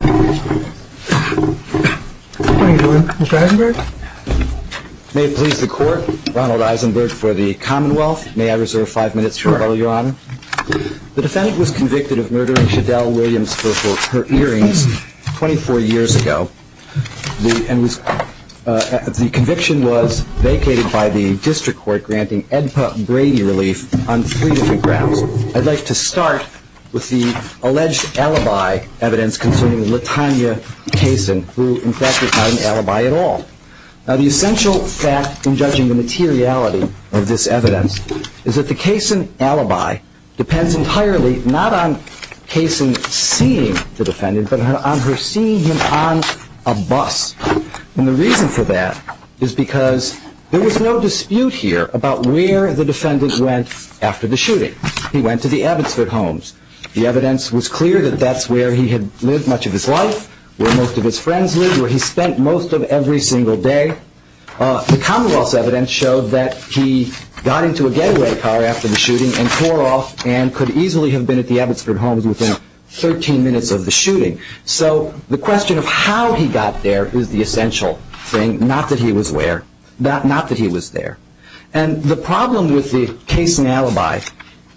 Mr. Heisenberg? May it please the Court, Ronald Heisenberg for the Commonwealth. May I reserve five minutes for rebuttal, Your Honor? The defendant was convicted of murdering Shadell Williams for her hearings 24 years ago. The conviction was vacated by the District Court granting Edpa Brady relief on three different grounds. I'd like to start with the alleged alibi evidence concerning Latanya Kaysen, who in fact is not an alibi at all. Now, the essential fact in judging the materiality of this evidence is that the Kaysen alibi depends entirely not on Kaysen seeing the defendant, but on her seeing him on a bus. And the reason for that is because there was no dispute here about where the defendant went after the shooting. He went to the Abbotsford Homes. The evidence was clear that that's where he had lived much of his life, where most of his friends lived, where he spent most of every single day. The Commonwealth's evidence showed that he got into a deadweight car after the shooting and tore off and could easily have been at the Abbotsford Homes within 13 minutes of the shooting. So the question of how he got there is the essential thing, not that he was where, not that he was there. And the problem with the Kaysen alibi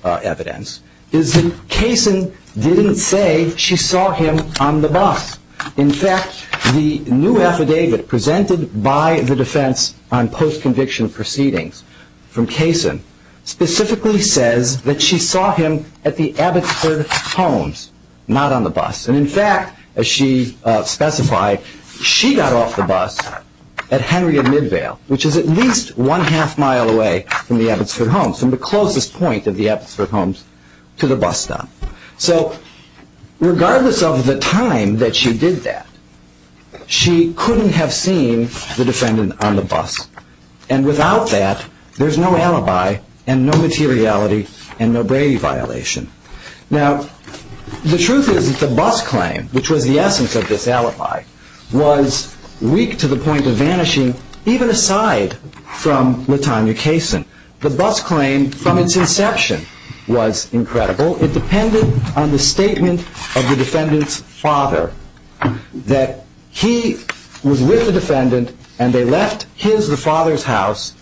evidence is that Kaysen didn't say she saw him on the bus. In fact, the new affidavit presented by the Defense on Post-Conviction Proceedings from Kaysen specifically says that she saw him at the Abbotsford Homes, not on the bus. And in fact, as she specified, she got off the bus at Henry and Midvale, which is at least one half mile away from the Abbotsford Homes, from the closest point of the Abbotsford Homes to the bus stop. So regardless of the time that she did that, she couldn't have seen the defendant on the bus. And without that, there's no alibi and no materiality and no Brady violation. Now, the truth is that the bus claim, which was the essence of this alibi, was weak to the point of vanishing, even aside from LaTanya Kaysen. The bus claim from its inception was incredible. It depended on the statement of the defendant's father that he was with the defendant and they left his, the father's house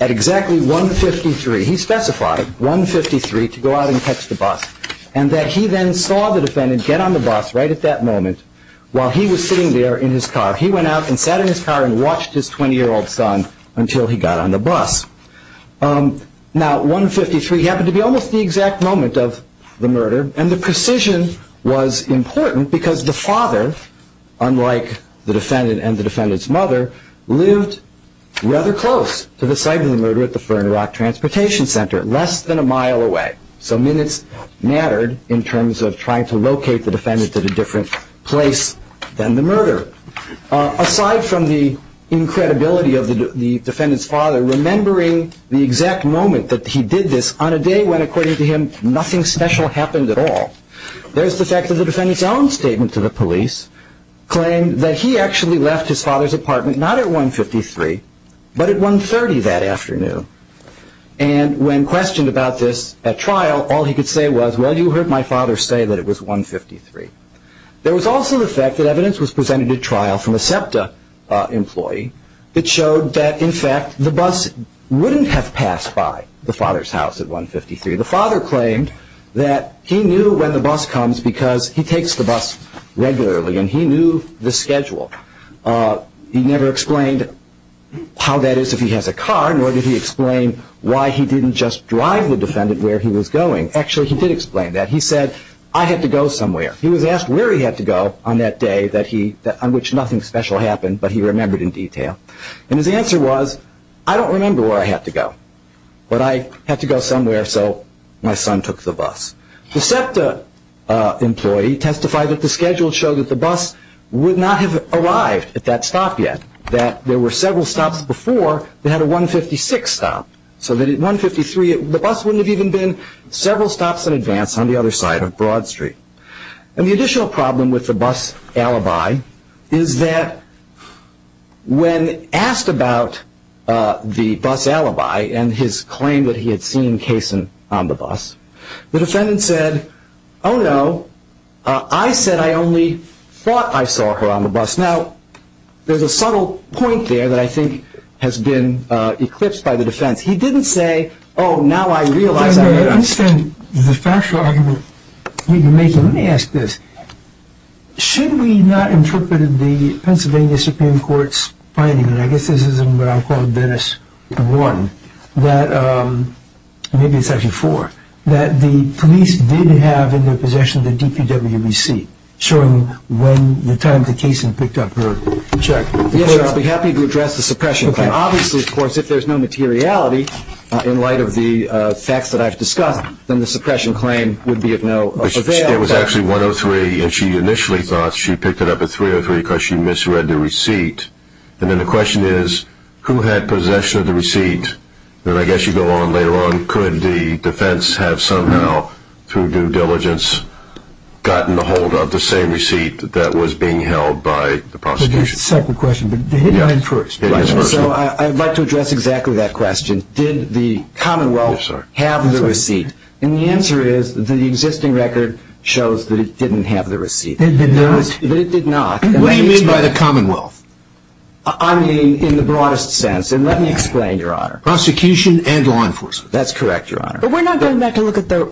at exactly 153. He specified 153 to go out and catch the bus. And that he then saw the defendant get on the bus right at that moment while he was sitting there in his car. He went out and sat in his car and watched his 20-year-old son until he got on the bus. Now, 153 happened to be almost the exact moment of the murder. And the precision was important because the father, unlike the defendant and the defendant's mother, lived rather close to the site of the murder at Fern Rock Transportation Center, less than a mile away. So minutes mattered in terms of trying to locate the defendant at a different place than the murder. Aside from the incredibility of the defendant's father remembering the exact moment that he did this on a day when, according to him, nothing special happened at all, there's the fact that the defendant's own statement to the police claimed that he actually left his father's apartment not at 153, but at 130 that afternoon. And when questioned about this at trial, all he could say was, well, you heard my father say that it was 153. There was also the fact that evidence was presented at trial from a SEPTA employee that showed that, in fact, the bus wouldn't have passed by the father's house at 153. The father claimed that he knew when the bus comes because he takes the bus regularly and he knew the schedule. He never explained how that is if he has a car, nor did he explain why he didn't just drive the defendant where he was going. Actually, he did explain that. He said, I had to go somewhere. He was asked where he had to go on that day that he, on which nothing special happened, but he remembered in detail. And his answer was, I don't remember where I had to go, but I had to go somewhere so my son took the bus. The SEPTA employee testified that the schedule showed that the bus would not have arrived at that stop yet, that there were several stops before that had a 156 stop. So that at 153, the bus wouldn't have even been several stops in advance on the other side of Broad Street. And the additional problem with the bus alibi is that when asked about the bus alibi and his claim that he had seen Kaysen on the bus, the defendant said, oh no, I said I only thought I saw her on the bus. Now, there's a subtle point there that I think has been eclipsed by the defense. He didn't say, oh, now I realize that. I understand the factual argument you're making. Let me ask this. Should we not interpret the Dennis one, that maybe it's actually four, that the police did have in their possession the DPW receipt showing when the time that Kaysen picked up her check? Yes, sir. I'll be happy to address the suppression claim. Obviously, of course, if there's no materiality in light of the facts that I've discussed, then the suppression claim would be of no avail. It was actually 103, and she initially thought she picked it up at 303 because she misread the receipt. And then the question is, who had possession of the receipt? Then I guess you go on later on. Could the defense have somehow, through due diligence, gotten a hold of the same receipt that was being held by the prosecution? There's a second question, but hit mine first. So I'd like to address exactly that question. Did the Commonwealth have the receipt? And the answer is that the existing record shows that it didn't have the receipt. That it did not? That it did not. What do you mean by the Commonwealth? I mean in the broadest sense. And let me explain, Your Honor. Prosecution and law enforcement. That's correct, Your Honor. But we're not going back to look at the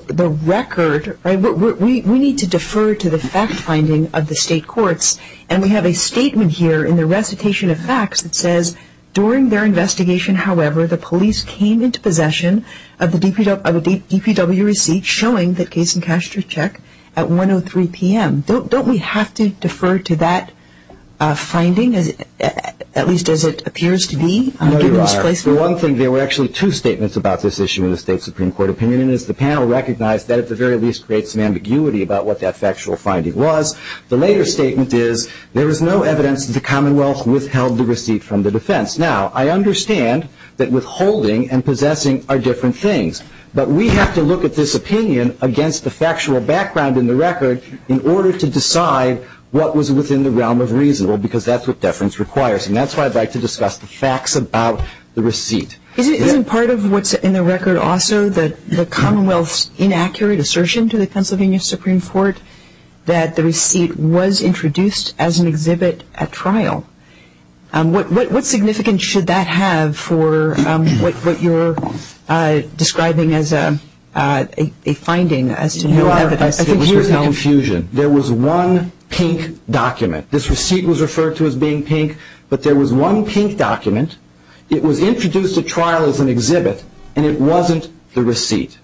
record. We need to defer to the fact-finding of the state courts. And we have a statement here in the recitation of facts that says, during their investigation, however, the police came into possession of the DPW receipt showing that case in Kastrichek at 1.03 p.m. Don't we have to defer to that finding, at least as it appears to be? No, Your Honor. Given its placement? One thing, there were actually two statements about this issue in the state Supreme Court opinion. And as the panel recognized, that at the very least creates some ambiguity about what that factual finding was. The later statement is, there is no evidence that the Commonwealth withheld the receipt from the defense. Now, I understand that withholding and possessing are different things. But we have to look at this opinion against the factual background in the record in order to decide what was within the realm of reason. Well, because that's what deference requires. And that's why I'd like to discuss the facts about the receipt. Isn't part of what's in the record also the Commonwealth's inaccurate assertion to the Pennsylvania Supreme Court that the receipt was introduced as an exhibit at trial? What do you make of that? Your Honor, I think here's the confusion. There was one pink document. This receipt was referred to as being pink. But there was one pink document. It was introduced at trial as an exhibit. And it wasn't the receipt.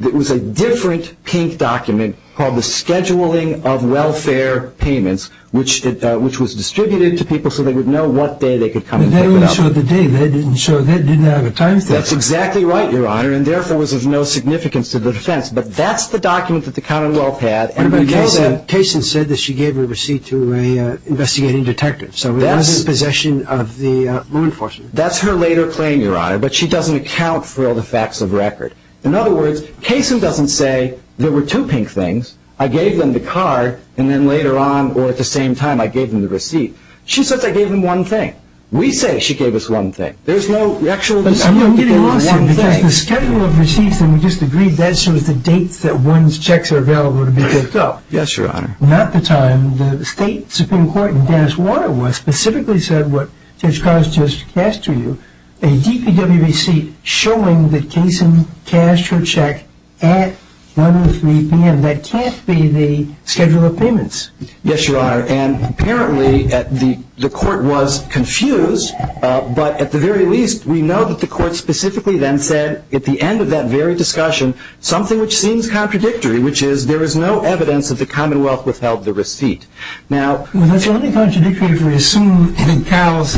It was a different pink document called the Scheduling of Welfare Payments, which was distributed to people so they would know what day they could come and pick it up. But that only showed the day. That didn't have a time stamp. That's exactly right, Your Honor. And therefore was of no significance to the defense. But that's the document that the Commonwealth had. But Kaysen said that she gave her receipt to an investigating detective. So it wasn't possession of the law enforcement. That's her later claim, Your Honor. But she doesn't account for all the facts of the record. In other words, Kaysen doesn't say, there were two pink things. I gave them the card. And then later on, or at the same time, I gave them the receipt. She says I gave them one thing. We say she gave us one thing. There's no actual... I'm not getting a lawsuit because the Schedule of Receipts that we just agreed, that shows the dates that one's checks are available to be picked up. Yes, Your Honor. Not the time that the State Supreme Court in Dennis Waterworth specifically said what Judge Carls just cast to you, a DPW receipt showing that Kaysen cashed her check at 1 to 3 p.m. That can't be the Schedule of Payments. Yes, Your Honor. And apparently, the court was confused. But at the very least, we know that the court specifically then said, at the end of that very discussion, something which seems contradictory, which is there is no evidence that the Commonwealth withheld the receipt. Now... Well, that's only contradictory if we assume that Carls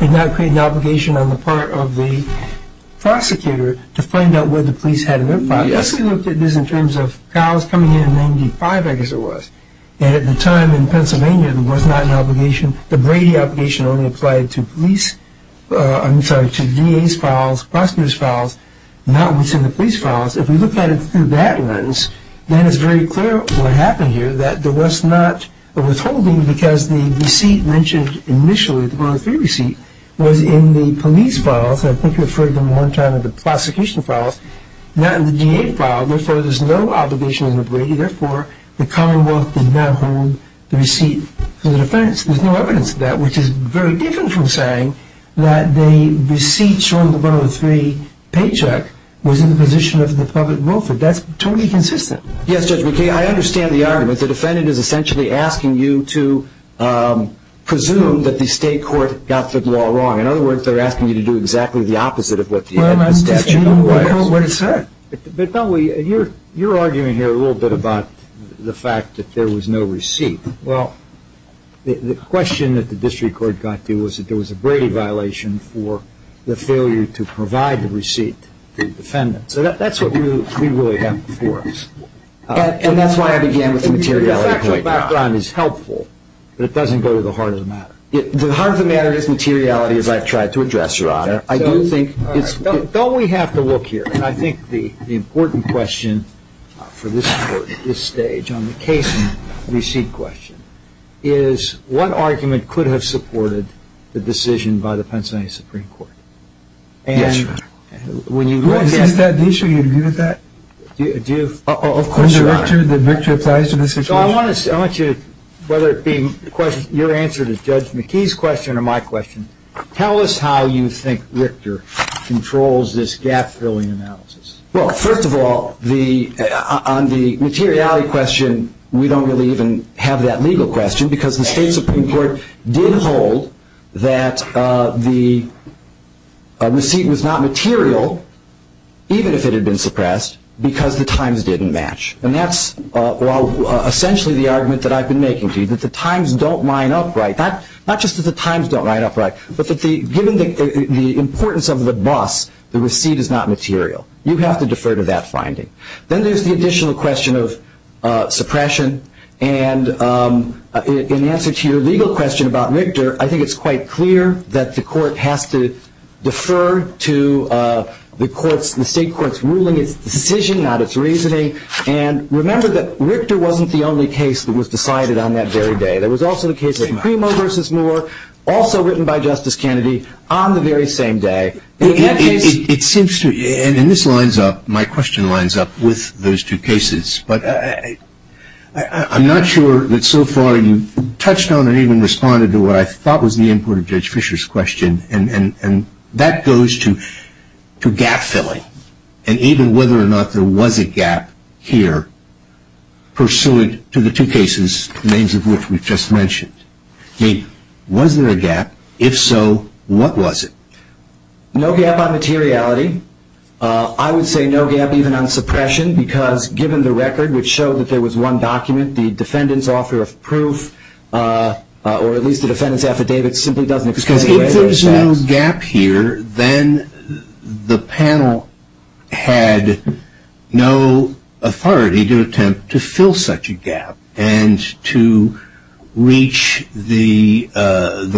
did not create an obligation on the part of the prosecutor to find out whether the police had an impact. Yes. Well, let's look at this in terms of Carls coming in in 1995, I guess it was. And at the time in Pennsylvania, there was not an obligation. The Brady obligation only applied to police... I'm sorry, to DA's files, prosecutors' files, not within the police files. If we look at it through that lens, then it's very clear what happened here, that there was not a withholding because the receipt mentioned initially, the 103 receipt, was in the police files. I think you referred to them one time in the prosecution files, not in the DA files. Therefore, there's no obligation under Brady. Therefore, the Commonwealth did not hold the receipt for the defense. There's no evidence of that, which is very different from saying that the receipt showing the 103 paycheck was in the position of the public welfare. That's totally consistent. Yes, Judge McKay, I understand the argument. The defendant is essentially asking you to do exactly the opposite of what the statute requires. But don't we... You're arguing here a little bit about the fact that there was no receipt. Well, the question that the district court got to was that there was a Brady violation for the failure to provide the receipt to the defendant. So that's what we really have before us. And that's why I began with the materiality point. Your factual background is helpful, but it doesn't go to the heart of the matter. The heart of the matter is materiality, as I've tried to address, Your Honor. Don't we have to look here? And I think the important question for this court at this stage on the case and receipt question is what argument could have supported the decision by the Pennsylvania Supreme Court? Yes, Your Honor. And when you look at... Is that the issue? Do you agree with that? Do you? Of course, Your Honor. The victor applies to the situation. Well, I want you to, whether it be your answer to Judge McKee's question or my question, tell us how you think Richter controls this gap-filling analysis. Well, first of all, on the materiality question, we don't really even have that legal question because the state Supreme Court did hold that the receipt was not material, even if it had been suppressed, because the times didn't match. And that's essentially the argument that I've been making to you, that the times don't line up right. Not just that the times don't line up right, but that given the importance of the bus, the receipt is not material. You have to defer to that finding. Then there's the additional question of suppression. And in answer to your legal question about Richter, I think it's quite clear that the court has to not its reasoning. And remember that Richter wasn't the only case that was decided on that very day. There was also the case of Primo v. Moore, also written by Justice Kennedy, on the very same day. It seems to me, and this lines up, my question lines up with those two cases, but I'm not sure that so far you've touched on or even responded to what I thought was the import of Judge Fisher's question. And that goes to gap filling and even whether or not there was a gap here, pursuant to the two cases, the names of which we've just mentioned. I mean, was there a gap? If so, what was it? No gap on materiality. I would say no gap even on suppression, because given the record, which showed that there was one document, the defendant's offer of proof, or at least the defendant's affidavit simply doesn't explain the way that it says. Because if there's no gap here, then the panel had no authority to attempt to fill such a gap and to reach the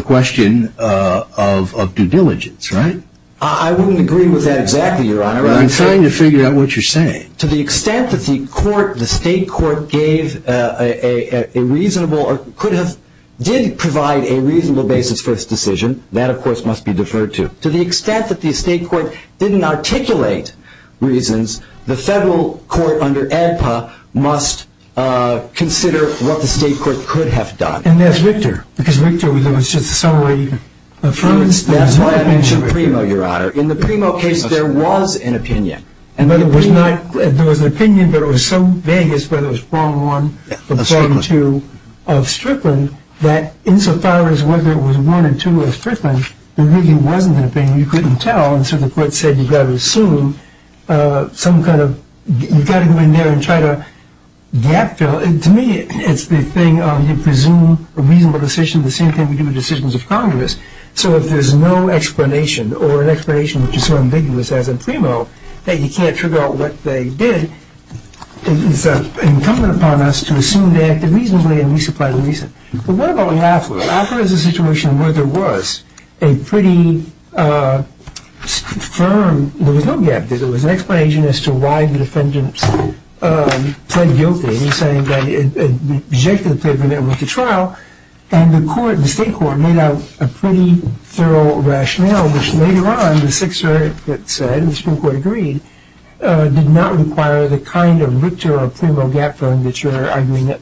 question of due diligence, right? I wouldn't agree with that exactly, Your Honor. To the extent that the court, the state court, gave a reasonable or could have did provide a reasonable basis for this decision, that, of course, must be deferred to. To the extent that the state court didn't articulate reasons, the federal court under ADPA must consider what the state court could have done. And that's Richter, because Richter was just a summary of evidence. That's why I mentioned Primo, Your Honor. In the Primo case, there was an opinion. There was an opinion that was so vague as whether it was form one or form two of Strickland that insofar as whether it was one or two of Strickland, there really wasn't an opinion. You couldn't tell. And so the court said you've got to assume some kind of – you've got to go in there and try to gap fill. To me, it's the thing of you presume a reasonable decision, the same thing we do with decisions of Congress. So if there's no explanation or an explanation which is so ambiguous, as in Primo, that you can't figure out what they did, it's incumbent upon us to assume they acted reasonably and resupply the reason. But what about AFRA? AFRA is a situation where there was a pretty firm – there was no gap. There was an explanation as to why the defendants pled guilty, saying that it rejected the paper and went to trial. And the state court made out a pretty thorough rationale, which later on the Sixth Circuit said, and the Supreme Court agreed, did not require the kind of Richter or Primo gap fill that you're arguing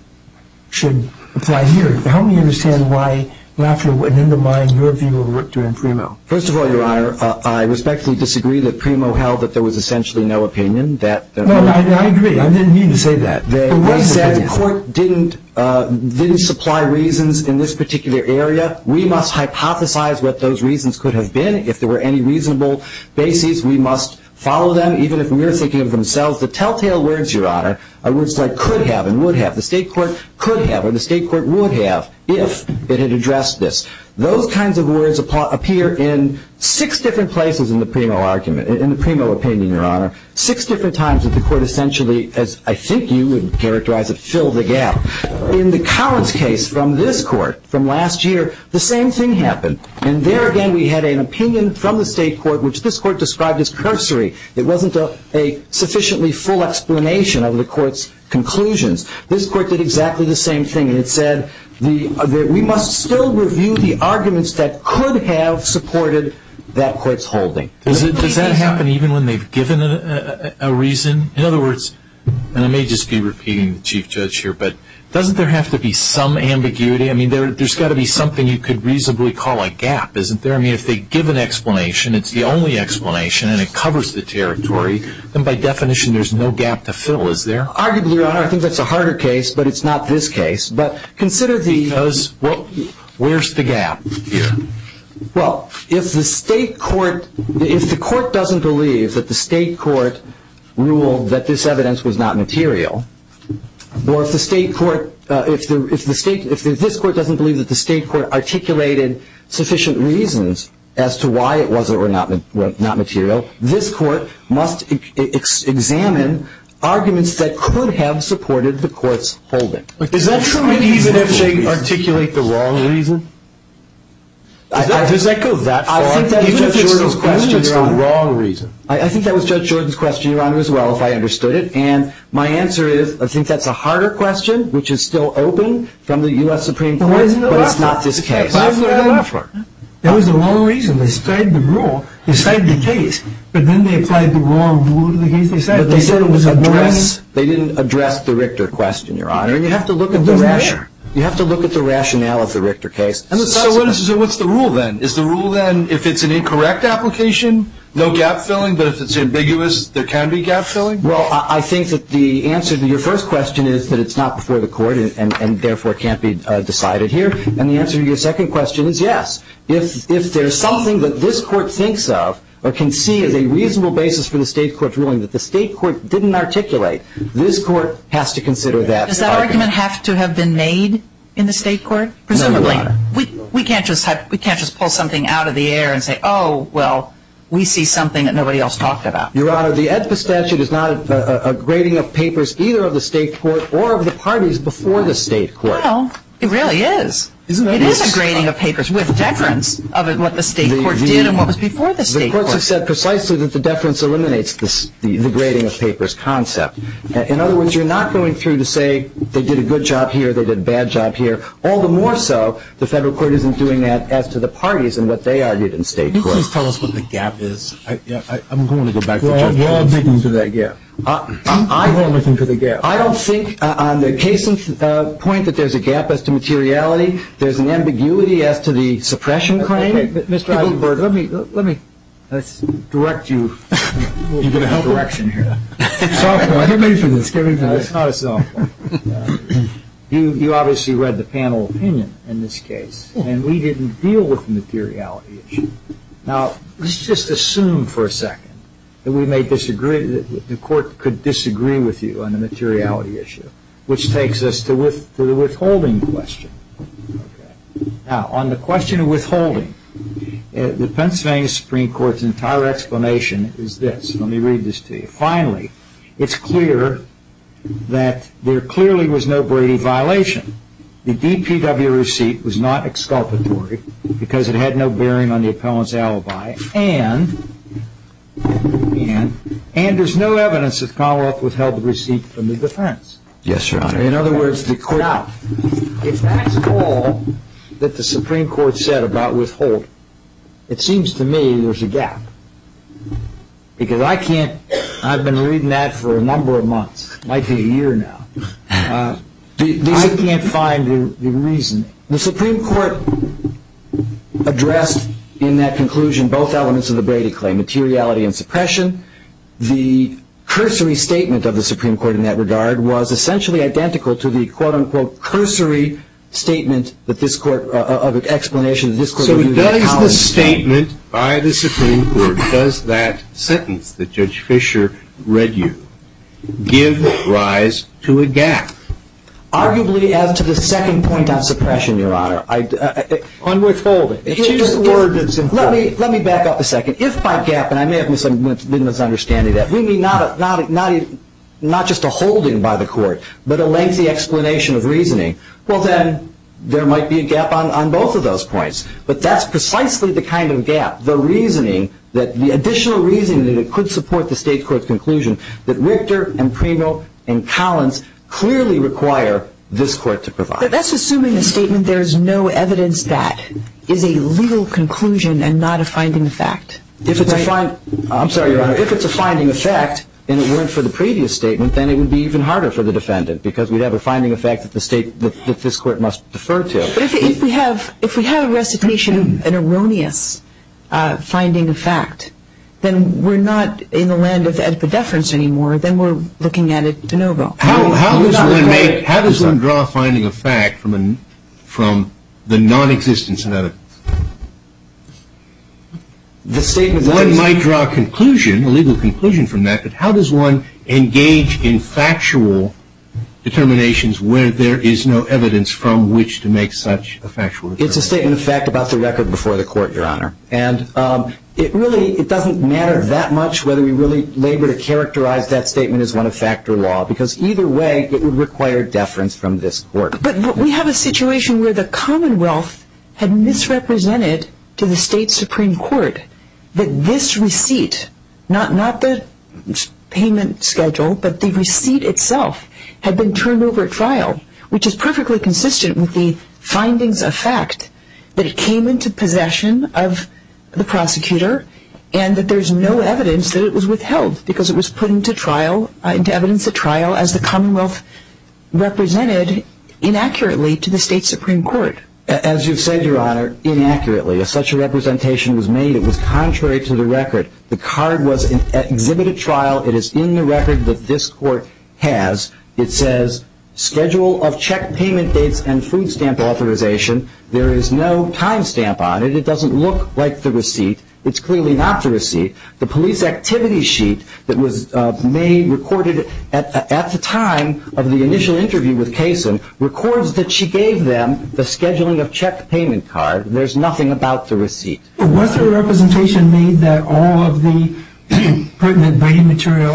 should apply here. Help me understand why AFRA wouldn't undermine your view of Richter and Primo. First of all, Your Honor, I respectfully disagree that Primo held that there was essentially no opinion. No, I agree. I didn't mean to say that. They said the court didn't supply reasons in this particular area. We must hypothesize what those reasons could have been. If there were any reasonable bases, we must follow them. Even if we were thinking of themselves, the telltale words, Your Honor, are words like could have and would have. The state court could have or the state court would have if it had addressed this. Those kinds of words appear in six different places in the Primo argument, in the Primo opinion, Your Honor. Six different times that the court essentially, as I think you would characterize it, filled the gap. In the Collins case from this court from last year, the same thing happened. And there again we had an opinion from the state court which this court described as cursory. It wasn't a sufficiently full explanation of the court's conclusions. This court did exactly the same thing. It said that we must still review the arguments that could have supported that court's holding. Does that happen even when they've given a reason? In other words, and I may just be repeating the Chief Judge here, but doesn't there have to be some ambiguity? I mean, there's got to be something you could reasonably call a gap, isn't there? I mean, if they give an explanation, it's the only explanation, and it covers the territory, then by definition there's no gap to fill, is there? Arguably, Your Honor, I think that's a harder case, but it's not this case. Because where's the gap? Well, if the court doesn't believe that the state court ruled that this evidence was not material, or if this court doesn't believe that the state court articulated sufficient reasons as to why it was or was not material, this court must examine arguments that could have supported the court's holding. Is that true even if they articulate the wrong reason? Does that go that far? Even if it's the wrong reason. I think that was Judge Jordan's question, Your Honor, as well, if I understood it, and my answer is I think that's a harder question, which is still open from the U.S. Supreme Court, but it's not this case. That was the wrong reason. They studied the rule, they studied the case, but then they applied the wrong rule to the case they studied. They didn't address the Richter question, Your Honor. You have to look at the rationale of the Richter case. So what's the rule then? Is the rule then if it's an incorrect application, no gap filling, but if it's ambiguous, there can be gap filling? Well, I think that the answer to your first question is that it's not before the court and therefore can't be decided here. And the answer to your second question is yes. If there's something that this court thinks of or can see as a reasonable basis for the state court's ruling that the state court didn't articulate, this court has to consider that argument. Does that argument have to have been made in the state court? No, Your Honor. Presumably. We can't just pull something out of the air and say, oh, well, we see something that nobody else talked about. Your Honor, the Edpa statute is not a grading of papers either of the state court or of the parties before the state court. Well, it really is. It is a grading of papers with deference of what the state court did and what was before the state court. Because the courts have said precisely that the deference eliminates the grading of papers concept. In other words, you're not going through to say they did a good job here, they did a bad job here. All the more so, the federal court isn't doing that as to the parties and what they argued in state court. Can you please tell us what the gap is? I'm going to go back to Justice Ginsburg. We're all digging for that gap. We're all looking for the gap. I don't think on the case point that there's a gap as to materiality. There's an ambiguity as to the suppression claim. Mr. Eisenberg, let me direct you in that direction here. It's not a soft point. Get me through this. It's not a soft point. You obviously read the panel opinion in this case, and we didn't deal with the materiality issue. Now, let's just assume for a second that the court could disagree with you on the materiality issue, which takes us to the withholding question. Now, on the question of withholding, the Pennsylvania Supreme Court's entire explanation is this. Let me read this to you. Finally, it's clear that there clearly was no Brady violation. The DPW receipt was not exculpatory because it had no bearing on the appellant's alibi, and there's no evidence that Commonwealth withheld the receipt from the defense. Yes, Your Honor. In other words, the court out. If that's all that the Supreme Court said about withholding, it seems to me there's a gap, because I've been reading that for a number of months. It might be a year now. I can't find the reasoning. The Supreme Court addressed in that conclusion both elements of the Brady claim, materiality and suppression. The cursory statement of the Supreme Court in that regard was essentially identical to the, quote-unquote, cursory statement of explanation that this court would use in the college case. So does the statement by the Supreme Court, does that sentence that Judge Fischer read you, give rise to a gap? Arguably, as to the second point on suppression, Your Honor. On withholding. It's just a word that's important. Let me back up a second. If by gap, and I may have been misunderstanding that, we mean not just a holding by the court, but a lengthy explanation of reasoning, well, then there might be a gap on both of those points. But that's precisely the kind of gap, the reasoning, the additional reasoning that it could support the state court's conclusion that Richter and Primo and Collins clearly require this court to provide. That's assuming the statement there is no evidence that is a legal conclusion and not a finding of fact. If it's a finding of fact, and it weren't for the previous statement, then it would be even harder for the defendant because we'd have a finding of fact that the state, that this court must defer to. But if we have a recitation of an erroneous finding of fact, then we're not in the land of epideference anymore, then we're looking at it de novo. How does one make, how does one draw a finding of fact from the nonexistence of evidence? One might draw a conclusion, a legal conclusion from that, but how does one engage in factual determinations where there is no evidence from which to make such a factual determination? It's a statement of fact about the record before the court, Your Honor. And it really, it doesn't matter that much whether we really labor to characterize that statement as one of fact or law because either way it would require deference from this court. But we have a situation where the Commonwealth had misrepresented to the state Supreme Court that this receipt, not the payment schedule, but the receipt itself had been turned over at trial, which is perfectly consistent with the findings of fact that it came into possession of the prosecutor and that there's no evidence that it was withheld because it was put into trial, into evidence at trial as the Commonwealth represented inaccurately to the state Supreme Court. As you said, Your Honor, inaccurately. If such a representation was made, it was contrary to the record. The card was exhibited at trial. It is in the record that this court has. It says schedule of check payment dates and food stamp authorization. It doesn't look like the receipt. It's clearly not the receipt. The police activity sheet that was made, recorded at the time of the initial interview with Kasin, records that she gave them the scheduling of check payment card. There's nothing about the receipt. Was there a representation made that all of the pertinent braiding material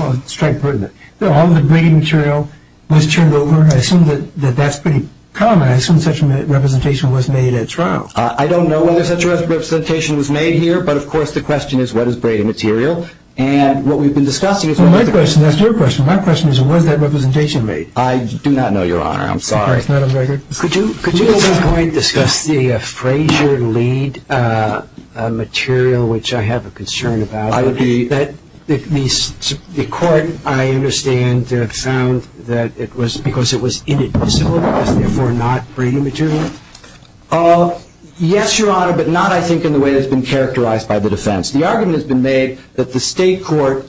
was turned over? I assume that that's pretty common. I assume such a representation was made at trial. I don't know whether such a representation was made here. But, of course, the question is what is braiding material? And what we've been discussing is what is a braiding material. That's your question. My question is what is that representation made? I do not know, Your Honor. I'm sorry. Could you at this point discuss the Frazier lead material, which I have a concern about? The court, I understand, found that it was because it was inadmissible, therefore not braiding material? Yes, Your Honor, but not, I think, in the way that's been characterized by the defense. The argument has been made that the state court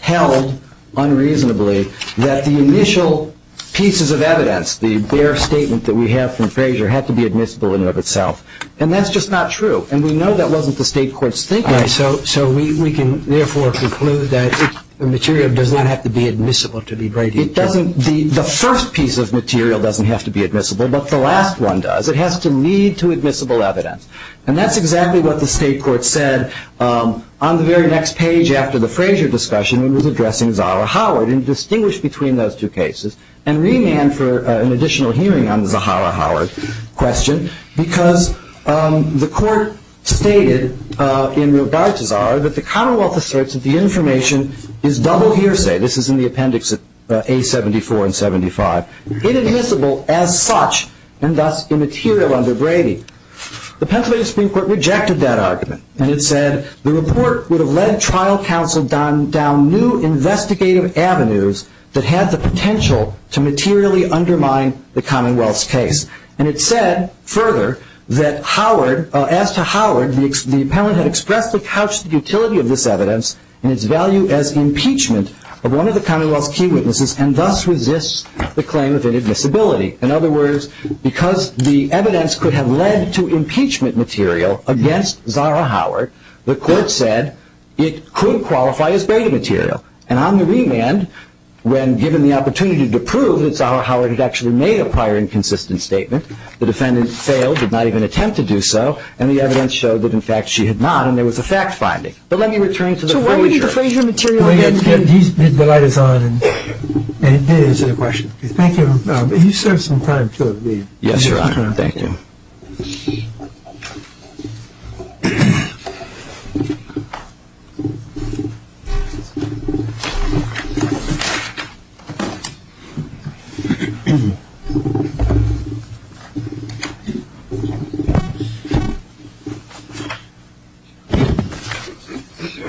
held unreasonably that the initial pieces of evidence, the bare statement that we have from Frazier, had to be admissible in and of itself. And that's just not true. And we know that wasn't the state court's thinking. So we can, therefore, conclude that the material does not have to be admissible to be braiding material. The first piece of material doesn't have to be admissible, but the last one does. It has to lead to admissible evidence. And that's exactly what the state court said on the very next page after the Frazier discussion when it was addressing Zahra Howard and distinguished between those two cases and remanded for an additional hearing on the Zahra Howard question because the court stated in regard to Zahra that the Commonwealth asserts that the information is double hearsay. This is in the appendix of A74 and 75. It is admissible as such and thus immaterial under braiding. The Pennsylvania Supreme Court rejected that argument. And it said the report would have led trial counsel down new investigative avenues that had the potential to materially undermine the Commonwealth's case. And it said further that as to Howard, the appellant had expressed and couched the utility of this evidence and its value as impeachment of one of the Commonwealth's key witnesses and thus resists the claim of inadmissibility. In other words, because the evidence could have led to impeachment material against Zahra Howard, the court said it could qualify as braided material. And on the remand, when given the opportunity to prove that Zahra Howard had actually made a prior inconsistent statement, the defendant failed, did not even attempt to do so, and the evidence showed that in fact she had not and there was a fact-finding. But let me return to the Frazier. So why wouldn't the Frazier material get in here? The light is on. And it did answer the question. Thank you. You served some time, too. Yes, Your Honor. Thank you.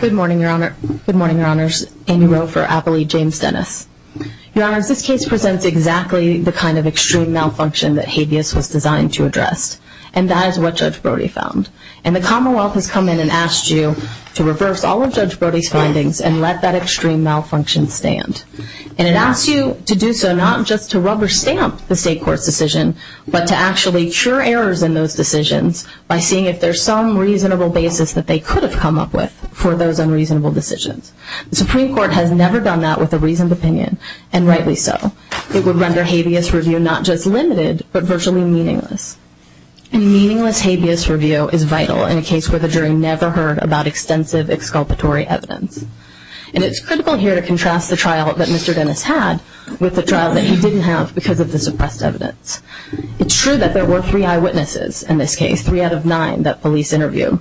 Good morning, Your Honor. Good morning, Your Honors. Amy Rowe for Appley. James Dennis. Your Honors, this case presents exactly the kind of extreme malfunction that habeas was designed to address. And that is what Judge Brody found. And the Commonwealth has come in and asked you to reverse all of Judge Brody's findings and let that extreme malfunction stand. And it asks you to do so not just to rubber stamp the state court's decision, but to actually cure errors in those decisions by seeing if there's some reasonable basis that they could have come up with for those unreasonable decisions. The Supreme Court has never done that with a reasoned opinion, and rightly so. It would render habeas review not just limited but virtually meaningless. And meaningless habeas review is vital in a case where the jury never heard about extensive exculpatory evidence. And it's critical here to contrast the trial that Mr. Dennis had with the trial that he didn't have because of the suppressed evidence. It's true that there were three eyewitnesses in this case. Three out of nine that police interviewed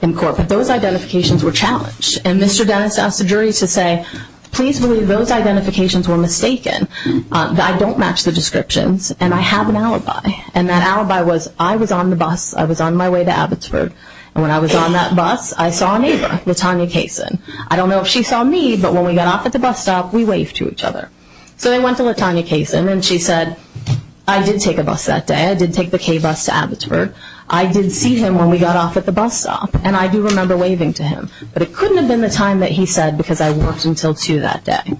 in court. But those identifications were challenged. And Mr. Dennis asked the jury to say, please believe those identifications were mistaken. I don't match the descriptions, and I have an alibi. And that alibi was I was on the bus. I was on my way to Abbotsford. And when I was on that bus, I saw a neighbor, Latonya Kaysen. I don't know if she saw me, but when we got off at the bus stop, we waved to each other. So they went to Latonya Kaysen, and she said, I did take a bus that day. I did take the K bus to Abbotsford. I did see him when we got off at the bus stop, and I do remember waving to him. But it couldn't have been the time that he said because I worked until 2 that day.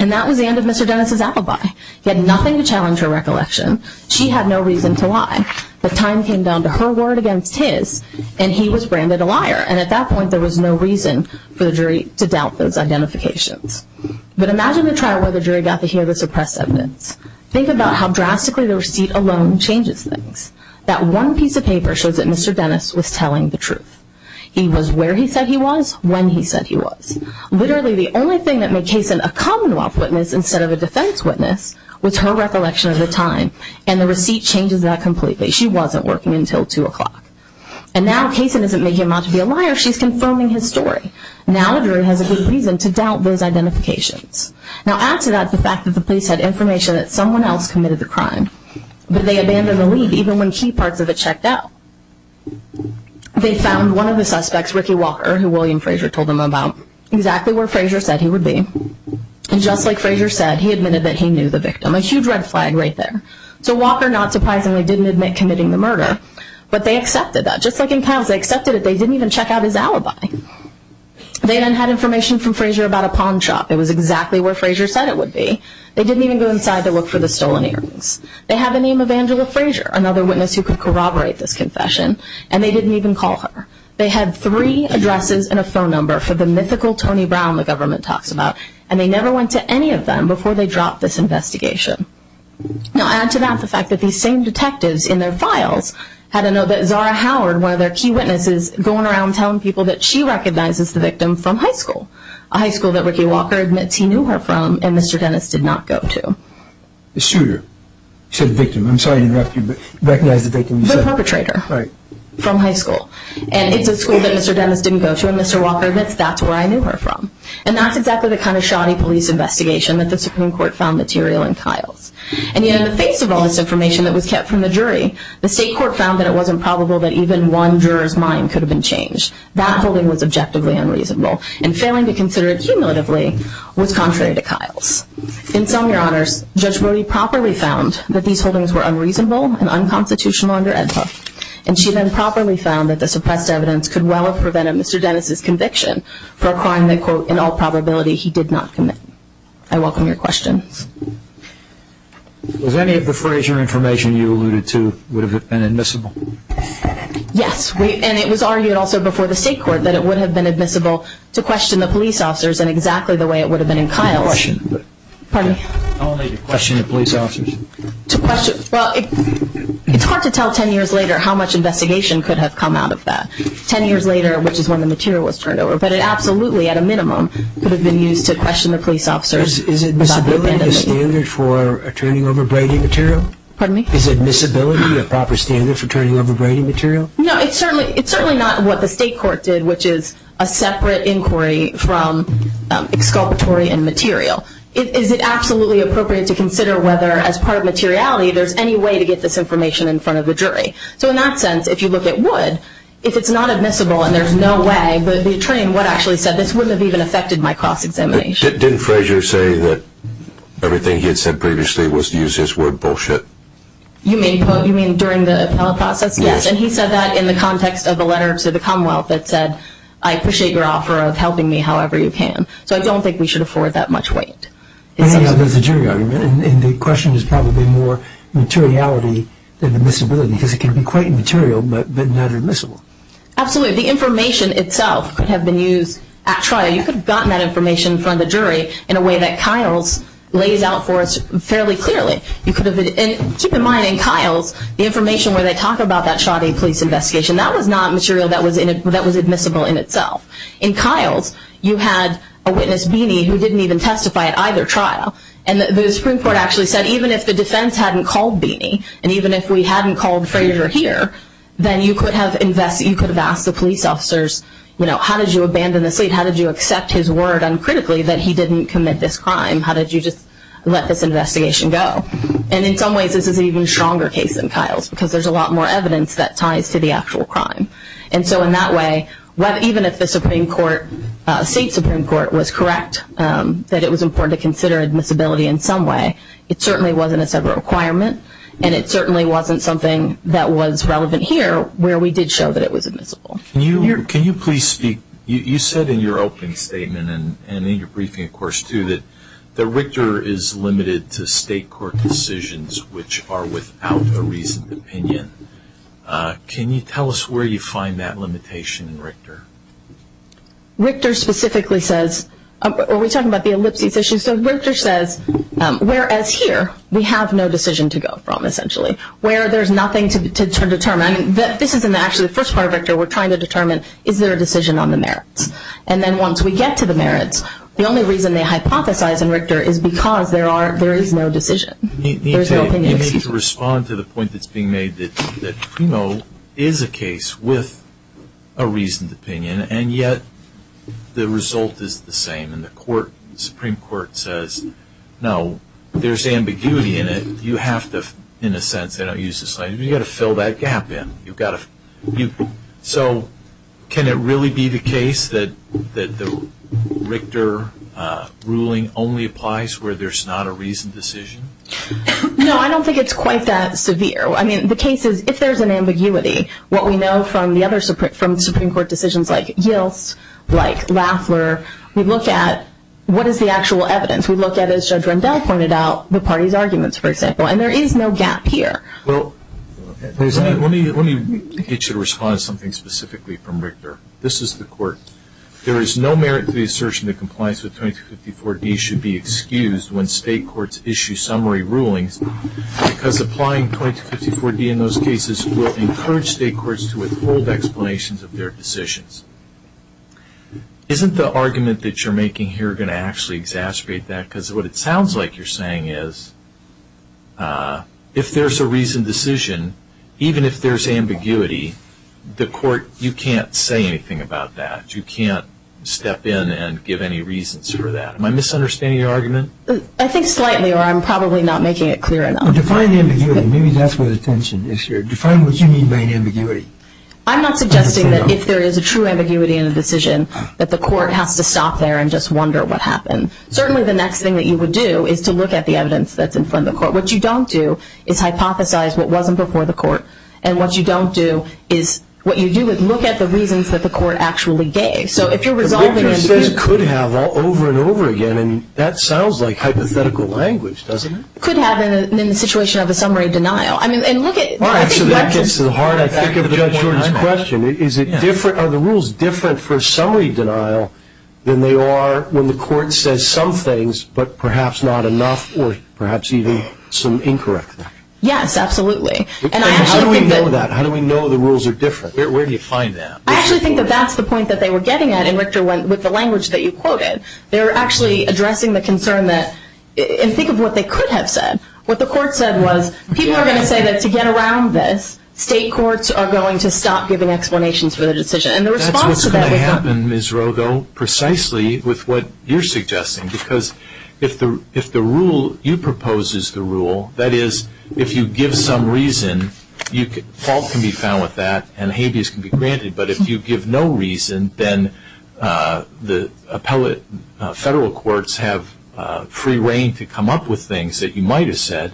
And that was the end of Mr. Dennis' alibi. He had nothing to challenge her recollection. She had no reason to lie. The time came down to her word against his, and he was branded a liar. And at that point, there was no reason for the jury to doubt those identifications. But imagine the trial where the jury got to hear the suppressed evidence. Think about how drastically the receipt alone changes things. That one piece of paper shows that Mr. Dennis was telling the truth. He was where he said he was, when he said he was. Literally, the only thing that made Kaysen a Commonwealth witness instead of a defense witness was her recollection of the time, and the receipt changes that completely. She wasn't working until 2 o'clock. And now Kaysen isn't making him out to be a liar. She's confirming his story. Now the jury has a good reason to doubt those identifications. Now add to that the fact that the police had information that someone else committed the crime. But they abandoned the lead, even when key parts of it checked out. They found one of the suspects, Ricky Walker, who William Frazier told them about, exactly where Frazier said he would be. And just like Frazier said, he admitted that he knew the victim. A huge red flag right there. So Walker, not surprisingly, didn't admit committing the murder. But they accepted that. Just like in Kyle's, they accepted it. They didn't even check out his alibi. They then had information from Frazier about a pawn shop. It was exactly where Frazier said it would be. They didn't even go inside to look for the stolen earrings. They had the name of Angela Frazier, another witness who could corroborate this confession. And they didn't even call her. They had three addresses and a phone number for the mythical Tony Brown the government talks about. And they never went to any of them before they dropped this investigation. Now add to that the fact that these same detectives in their files had to know that Zara Howard, one of their key witnesses, going around telling people that she recognizes the victim from high school, a high school that Ricky Walker admits he knew her from and Mr. Dennis did not go to. The shooter? You said the victim. I'm sorry to interrupt you, but you recognize the victim you said? The perpetrator. Right. From high school. And it's a school that Mr. Dennis didn't go to and Mr. Walker admits that's where I knew her from. And that's exactly the kind of shoddy police investigation that the Supreme Court found material in Kyle's. And yet in the face of all this information that was kept from the jury, the state court found that it wasn't probable that even one juror's mind could have been changed. That holding was objectively unreasonable. And failing to consider it cumulatively was contrary to Kyle's. In sum, Your Honors, Judge Brody properly found that these holdings were unreasonable and unconstitutional under Ed Huff. And she then properly found that the suppressed evidence could well have prevented Mr. Dennis' conviction for a crime that, quote, in all probability he did not commit. I welcome your questions. Was any of the Frazier information you alluded to, would it have been admissible? Yes. And it was argued also before the state court that it would have been admissible to question the police officers in exactly the way it would have been in Kyle's. How only to question the police officers? Well, it's hard to tell ten years later how much investigation could have come out of that. Ten years later, which is when the material was turned over. But it absolutely, at a minimum, could have been used to question the police officers. Is admissibility a standard for turning over braiding material? Pardon me? Is admissibility a proper standard for turning over braiding material? No, it's certainly not what the state court did, which is a separate inquiry from exculpatory and material. Is it absolutely appropriate to consider whether, as part of materiality, there's any way to get this information in front of the jury? So in that sense, if you look at Wood, if it's not admissible and there's no way, the attorney in Wood actually said this wouldn't have even affected my cross-examination. Didn't Frazier say that everything he had said previously was to use his word bullshit? You mean during the appellate process? Yes. And he said that in the context of a letter to the Commonwealth that said, I appreciate your offer of helping me however you can. So I don't think we should afford that much weight. But there's a jury argument, and the question is probably more materiality than admissibility, because it can be quite material but not admissible. Absolutely. The information itself could have been used at trial. You could have gotten that information from the jury in a way that Kiles lays out for us fairly clearly. Keep in mind, in Kiles, the information where they talk about that shoddy police investigation, that was not material that was admissible in itself. In Kiles, you had a witness, Beeney, who didn't even testify at either trial. And the Supreme Court actually said even if the defense hadn't called Beeney and even if we hadn't called Frazier here, then you could have asked the police officers, you know, how did you abandon the state? How did you accept his word uncritically that he didn't commit this crime? How did you just let this investigation go? And in some ways, this is an even stronger case than Kiles, because there's a lot more evidence that ties to the actual crime. And so in that way, even if the Supreme Court, state Supreme Court, was correct that it was important to consider admissibility in some way, it certainly wasn't a said requirement, and it certainly wasn't something that was relevant here where we did show that it was admissible. Can you please speak? You said in your opening statement and in your briefing, of course, too, that Richter is limited to state court decisions which are without a reasoned opinion. Can you tell us where you find that limitation in Richter? Richter specifically says, are we talking about the ellipses issue? So Richter says, whereas here, we have no decision to go from, essentially, where there's nothing to determine. This isn't actually the first part of Richter. We're trying to determine, is there a decision on the merits? And then once we get to the merits, the only reason they hypothesize in Richter is because there is no decision. You need to respond to the point that's being made that Primo is a case with a reasoned opinion, and yet the result is the same, and the Supreme Court says, no, there's ambiguity in it. You have to, in a sense, you've got to fill that gap in. So can it really be the case that the Richter ruling only applies where there's not a reasoned decision? No, I don't think it's quite that severe. I mean, the case is, if there's an ambiguity, what we know from the other Supreme Court decisions, like Yilts, like Lafler, we look at what is the actual evidence. We look at, as Judge Rendell pointed out, the party's arguments, for example, and there is no gap here. Well, let me get you to respond to something specifically from Richter. This is the court. There is no merit to the assertion that compliance with 2254D should be excused when state courts issue summary rulings because applying 2254D in those cases will encourage state courts to withhold explanations of their decisions. Isn't the argument that you're making here going to actually exacerbate that? Because what it sounds like you're saying is, if there's a reasoned decision, even if there's ambiguity, the court, you can't say anything about that. You can't step in and give any reasons for that. Am I misunderstanding your argument? I think slightly, or I'm probably not making it clear enough. Define the ambiguity. Maybe that's where the tension is here. Define what you mean by an ambiguity. I'm not suggesting that if there is a true ambiguity in a decision, that the court has to stop there and just wonder what happened. Certainly the next thing that you would do is to look at the evidence that's in front of the court. What you don't do is hypothesize what wasn't before the court. And what you don't do is what you do is look at the reasons that the court actually gave. So if you're resolving an issue... Richter says could have over and over again, and that sounds like hypothetical language, doesn't it? Could have in the situation of a summary denial. I mean, and look at... All right, so that gets to the heart, I think, of Judge Jordan's question. Are the rules different for summary denial than they are when the court says some things, but perhaps not enough or perhaps even some incorrect? Yes, absolutely. And how do we know that? How do we know the rules are different? Where do you find that? I actually think that that's the point that they were getting at in Richter with the language that you quoted. They were actually addressing the concern that... And think of what they could have said. What the court said was people are going to say that to get around this, state courts are going to stop giving explanations for the decision. And the response to that was... That's what's going to happen, Ms. Roe, though, precisely with what you're suggesting. Because if the rule you propose is the rule, that is, if you give some reason, fault can be found with that and habeas can be granted. But if you give no reason, then the federal courts have free reign to come up with things that you might have said.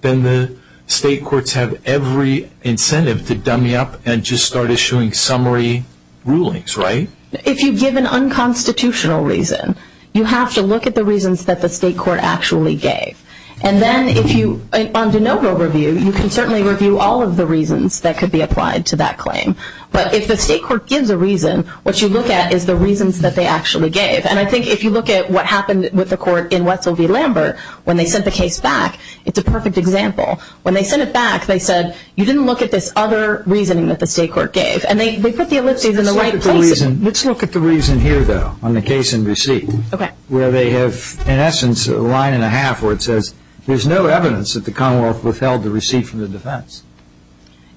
Then the state courts have every incentive to dummy up and just start issuing summary rulings, right? If you give an unconstitutional reason, you have to look at the reasons that the state court actually gave. And then if you... On de novo review, you can certainly review all of the reasons that could be applied to that claim. But if the state court gives a reason, what you look at is the reasons that they actually gave. And I think if you look at what happened with the court in Wessel v. Lambert, when they sent the case back, it's a perfect example. When they sent it back, they said, you didn't look at this other reasoning that the state court gave. And they put the ellipses in the right places. Let's look at the reason here, though, on the case in receipt. Okay. Where they have, in essence, a line and a half where it says, there's no evidence that the Commonwealth withheld the receipt from the defense.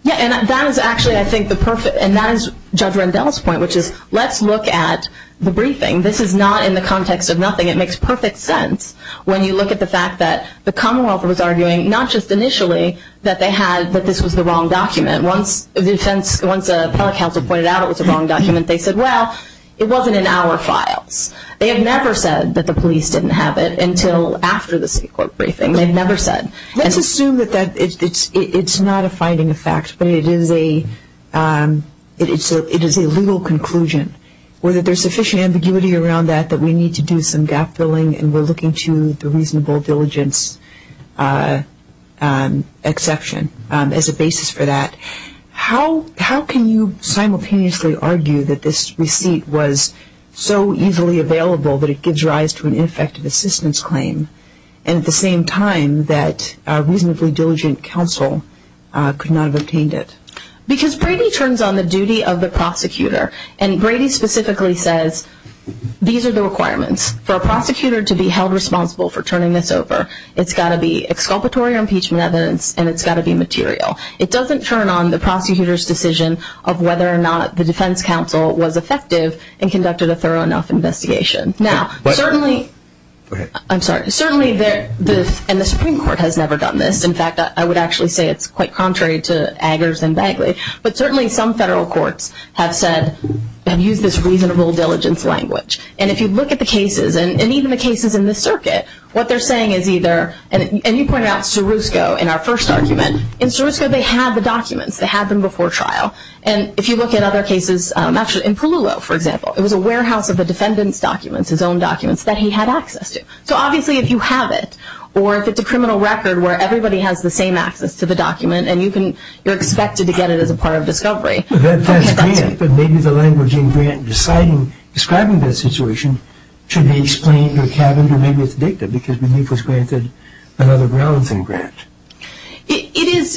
Yeah, and that is actually, I think, the perfect... And that is Judge Rendell's point, which is, let's look at the briefing. This is not in the context of nothing. It makes perfect sense when you look at the fact that the Commonwealth was arguing, not just initially, that this was the wrong document. Once the appellate counsel pointed out it was the wrong document, they said, well, it wasn't in our files. They had never said that the police didn't have it until after the state court briefing. They had never said. Let's assume that it's not a finding of fact, but it is a legal conclusion, or that there's sufficient ambiguity around that, that we need to do some gap filling and we're looking to the reasonable diligence exception as a basis for that. How can you simultaneously argue that this receipt was so easily available that it gives rise to an ineffective assistance claim, and at the same time that a reasonably diligent counsel could not have obtained it? Because Brady turns on the duty of the prosecutor. And Brady specifically says, these are the requirements. For a prosecutor to be held responsible for turning this over, it's got to be exculpatory impeachment evidence and it's got to be material. It doesn't turn on the prosecutor's decision of whether or not the defense counsel was effective and conducted a thorough enough investigation. Now, certainly... I'm sorry. Certainly, and the Supreme Court has never done this. In fact, I would actually say it's quite contrary to Eggers and Bagley. But certainly, some federal courts have said... have used this reasonable diligence language. And if you look at the cases, and even the cases in this circuit, what they're saying is either... And you pointed out Srusco in our first argument. In Srusco, they had the documents. They had them before trial. And if you look at other cases... Actually, in Palullo, for example, it was a warehouse of the defendant's documents, his own documents, that he had access to. So obviously, if you have it, or if it's a criminal record where everybody has the same access to the document, and you're expected to get it as a part of discovery... But that's Grant. But maybe the language in Grant describing that situation should be explained or cabined, or maybe it's dicta, because relief was granted on other grounds than Grant.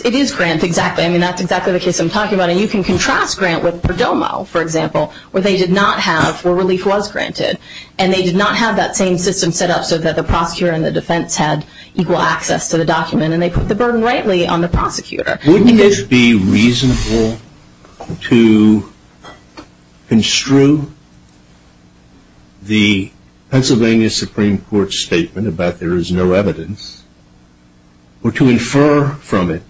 It is Grant, exactly. I mean, that's exactly the case I'm talking about. And you can contrast Grant with Perdomo, for example, where they did not have... where relief was granted. And they did not have that same system set up so that the prosecutor and the defense had equal access to the document. And they put the burden rightly on the prosecutor. Wouldn't it be reasonable to construe the Pennsylvania Supreme Court's statement about there is no evidence, or to infer from it,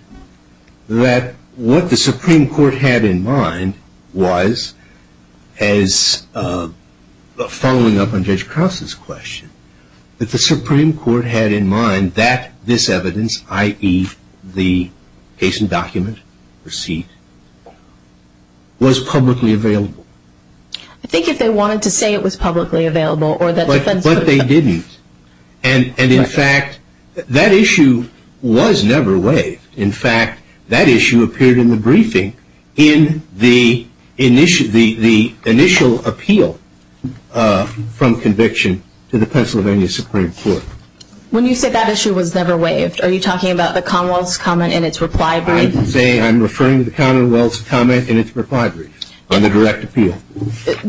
that what the Supreme Court had in mind was, as following up on Judge Krause's question, that the Supreme Court had in mind that this evidence, i.e. the case and document receipt, was publicly available? I think if they wanted to say it was publicly available... But they didn't. And in fact, that issue was never waived. In fact, that issue appeared in the briefing in the initial appeal from conviction to the Pennsylvania Supreme Court. When you said that issue was never waived, are you talking about the Commonwealth's comment in its reply brief? I'm referring to the Commonwealth's comment in its reply brief on the direct appeal.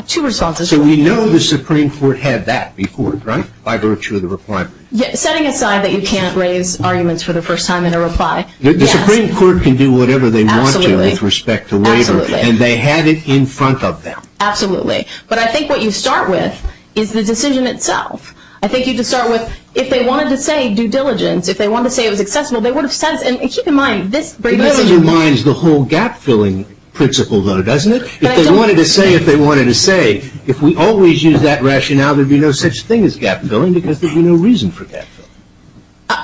Two responses. So we know the Supreme Court had that before, right, by virtue of the reply brief. Setting aside that you can't raise arguments for the first time in a reply. The Supreme Court can do whatever they want to with respect to waiver. Absolutely. And they had it in front of them. Absolutely. But I think what you start with is the decision itself. I think you just start with, if they wanted to say due diligence, if they wanted to say it was accessible, they would have said it. And keep in mind, this brief decision... It undermines the whole gap-filling principle, though, doesn't it? If they wanted to say, if we always use that rationale, there would be no such thing as gap-filling because there would be no reason for gap-filling.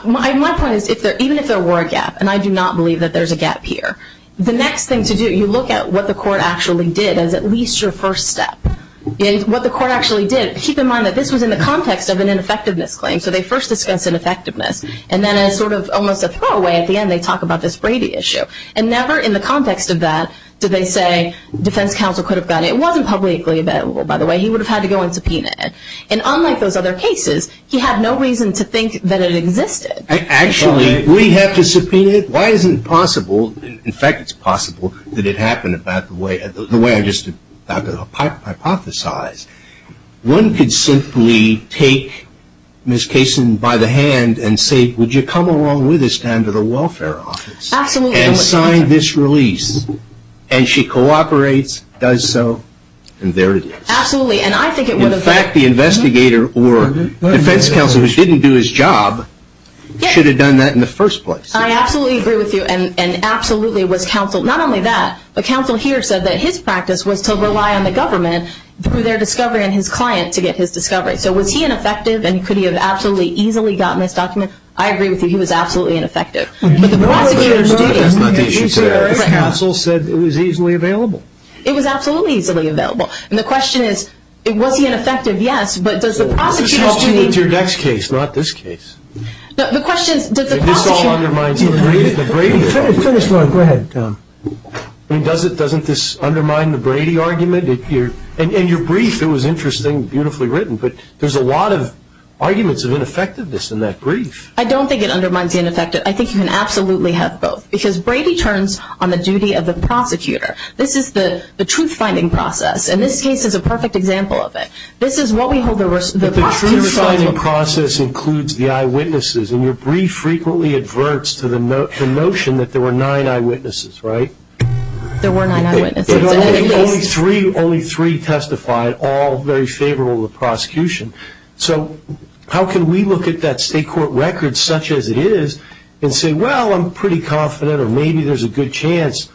My point is, even if there were a gap, and I do not believe that there's a gap here, the next thing to do, you look at what the court actually did as at least your first step. What the court actually did, keep in mind that this was in the context of an ineffectiveness claim, so they first discuss ineffectiveness, and then as sort of almost a throwaway at the end they talk about this Brady issue. And never in the context of that did they say defense counsel could have gotten it. It wasn't publicly available, by the way. He would have had to go and subpoena it. And unlike those other cases, he had no reason to think that it existed. Actually, we have to subpoena it. Why isn't it possible, in fact it's possible, that it happened about the way I just hypothesized. One could simply take Ms. Kaysen by the hand and say, would you come along with us down to the welfare office and sign this release. And she cooperates, does so, and there it is. Absolutely. In fact, the investigator or defense counsel who didn't do his job should have done that in the first place. I absolutely agree with you, and absolutely it was counsel. Not only that, but counsel here said that his practice was to rely on the government through their discovery and his client to get his discovery. So was he ineffective and could he have absolutely easily gotten this document? I agree with you, he was absolutely ineffective. But the prosecutors did. Counsel said it was easily available. It was absolutely easily available. And the question is, was he ineffective? Yes, but does the prosecutors need This has to do with your next case, not this case. No, the question is, did the prosecutors And this all undermines the Brady argument. Go ahead, Tom. Doesn't this undermine the Brady argument? In your brief, it was interesting, beautifully written, but there's a lot of arguments of ineffectiveness in that brief. I don't think it undermines the ineffectiveness. I think you can absolutely have both, because Brady turns on the duty of the prosecutor. This is the truth-finding process, and this case is a perfect example of it. The truth-finding process includes the eyewitnesses, and your brief frequently adverts to the notion that there were nine eyewitnesses, right? There were nine eyewitnesses. Only three testified, all very favorable to the prosecution. So how can we look at that state court record such as it is and say, Well, I'm pretty confident, or maybe there's a good chance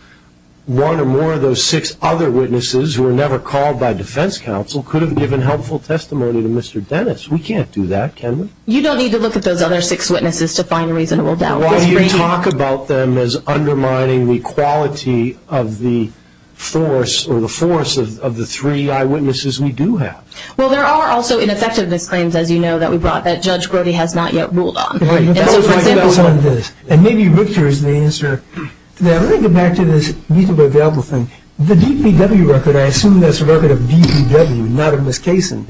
one or more of those six other witnesses who were never called by defense counsel could have given helpful testimony to Mr. Dennis. We can't do that, can we? You don't need to look at those other six witnesses to find reasonable doubt. Well, you talk about them as undermining the quality of the force, or the force of the three eyewitnesses we do have. Well, there are also ineffectiveness claims, as you know, that we brought that Judge Brody has not yet ruled on. That was my guess on this. And maybe Richter is the answer. Now, let me get back to this need-to-be-available thing. The DPW record, I assume that's a record of DPW, not of Ms. Kaysen.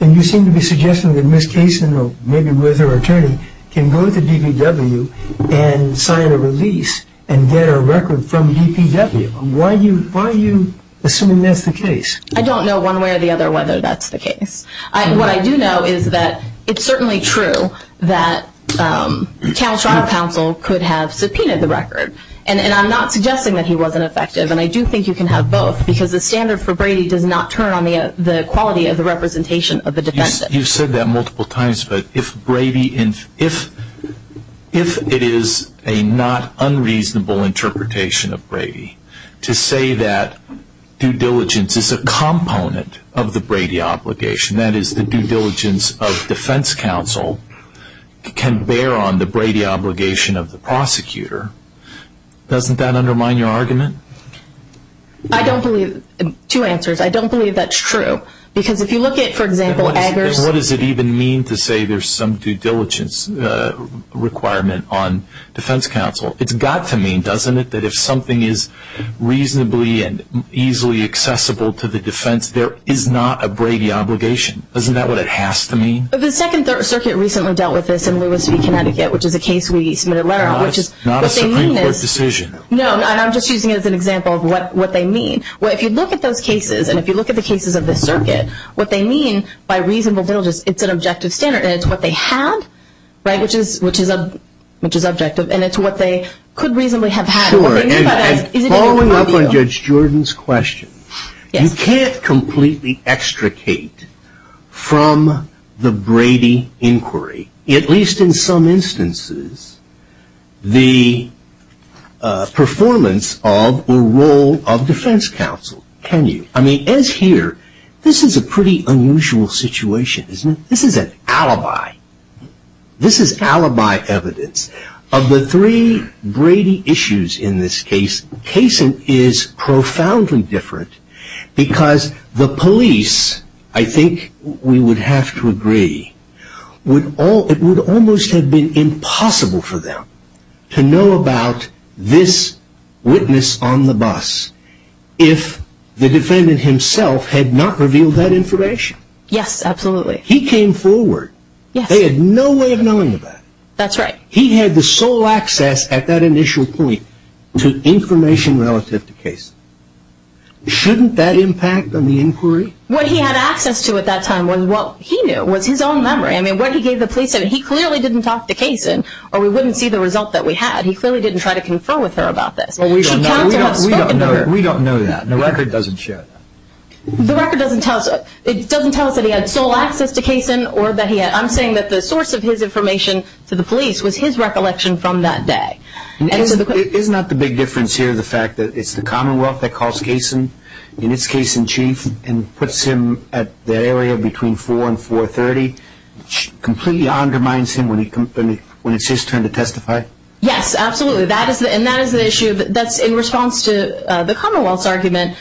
And you seem to be suggesting that Ms. Kaysen, or maybe with her attorney, can go to DPW and sign a release and get a record from DPW. Why are you assuming that's the case? I don't know one way or the other whether that's the case. What I do know is that it's certainly true that the Council could have subpoenaed the record. And I'm not suggesting that he wasn't effective, and I do think you can have both, because the standard for Brady does not turn on the quality of the representation of the defendant. You've said that multiple times, but if it is a not unreasonable interpretation of Brady to say that due diligence is a component of the Brady obligation, that is the due diligence of defense counsel can bear on the Brady obligation of the prosecutor, doesn't that undermine your argument? I don't believe. Two answers. I don't believe that's true, because if you look at, for example, Eggers. And what does it even mean to say there's some due diligence requirement on defense counsel? It's got to mean, doesn't it, that if something is reasonably and easily accessible to the defense, there is not a Brady obligation. Isn't that what it has to mean? The Second Circuit recently dealt with this in Lewis v. Connecticut, which is a case we submitted a letter on. Not a Supreme Court decision. No, and I'm just using it as an example of what they mean. If you look at those cases, and if you look at the cases of this circuit, what they mean by reasonable due diligence, it's an objective standard. And it's what they had, right, which is objective. And it's what they could reasonably have had. Sure, and following up on Judge Jordan's question, you can't completely extricate from the Brady inquiry, at least in some instances, the performance of or role of defense counsel, can you? I mean, as here, this is a pretty unusual situation, isn't it? This is an alibi. This is alibi evidence. Of the three Brady issues in this case, Cason is profoundly different, because the police, I think we would have to agree, it would almost have been impossible for them to know about this witness on the bus if the defendant himself had not revealed that information. Yes, absolutely. He came forward. Yes. They had no way of knowing about it. That's right. He had the sole access at that initial point to information relative to Cason. Shouldn't that impact on the inquiry? What he had access to at that time was what he knew, was his own memory. I mean, what he gave the police, he clearly didn't talk to Cason, or we wouldn't see the result that we had. He clearly didn't try to confer with her about this. We don't know that. The record doesn't show that. The record doesn't tell us. It doesn't tell us that he had sole access to Cason. I'm saying that the source of his information to the police was his recollection from that day. Isn't that the big difference here, the fact that it's the Commonwealth that calls Cason, and it's Cason Chief, and puts him at the area between 4 and 430, completely undermines him when it's his turn to testify? Yes, absolutely. And that is the issue that's in response to the Commonwealth's argument.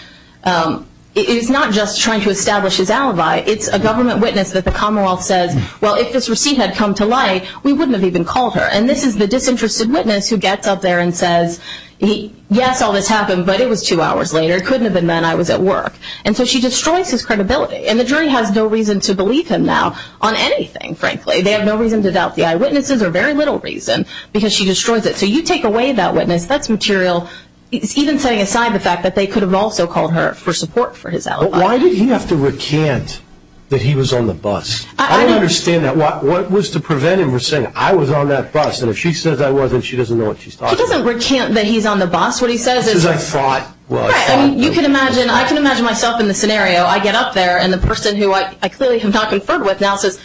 It is not just trying to establish his alibi. It's a government witness that the Commonwealth says, well, if this receipt had come to light, we wouldn't have even called her. And this is the disinterested witness who gets up there and says, yes, all this happened, but it was two hours later. It couldn't have been then. I was at work. And so she destroys his credibility. And the jury has no reason to believe him now on anything, frankly. They have no reason to doubt the eyewitnesses or very little reason because she destroys it. So you take away that witness. That's material. It's even setting aside the fact that they could have also called her for support for his alibi. But why did he have to recant that he was on the bus? I don't understand that. What was to prevent him from saying, I was on that bus, and if she says I wasn't, she doesn't know what she's talking about. He doesn't recant that he's on the bus. What he says is I fought. Right. I mean, you can imagine, I can imagine myself in the scenario. I get up there, and the person who I clearly have not conferred with now says,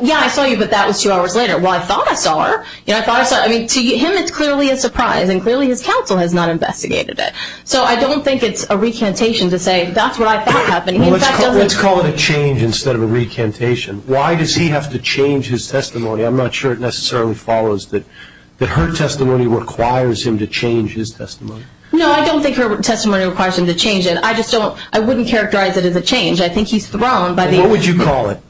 yeah, I saw you, but that was two hours later. Well, I thought I saw her. I mean, to him it's clearly a surprise, and clearly his counsel has not investigated it. So I don't think it's a recantation to say that's what I thought happened. Let's call it a change instead of a recantation. Why does he have to change his testimony? I'm not sure it necessarily follows that her testimony requires him to change his testimony. No, I don't think her testimony requires him to change it. I just don't – I wouldn't characterize it as a change. I think he's thrown by the evidence. What would you call it?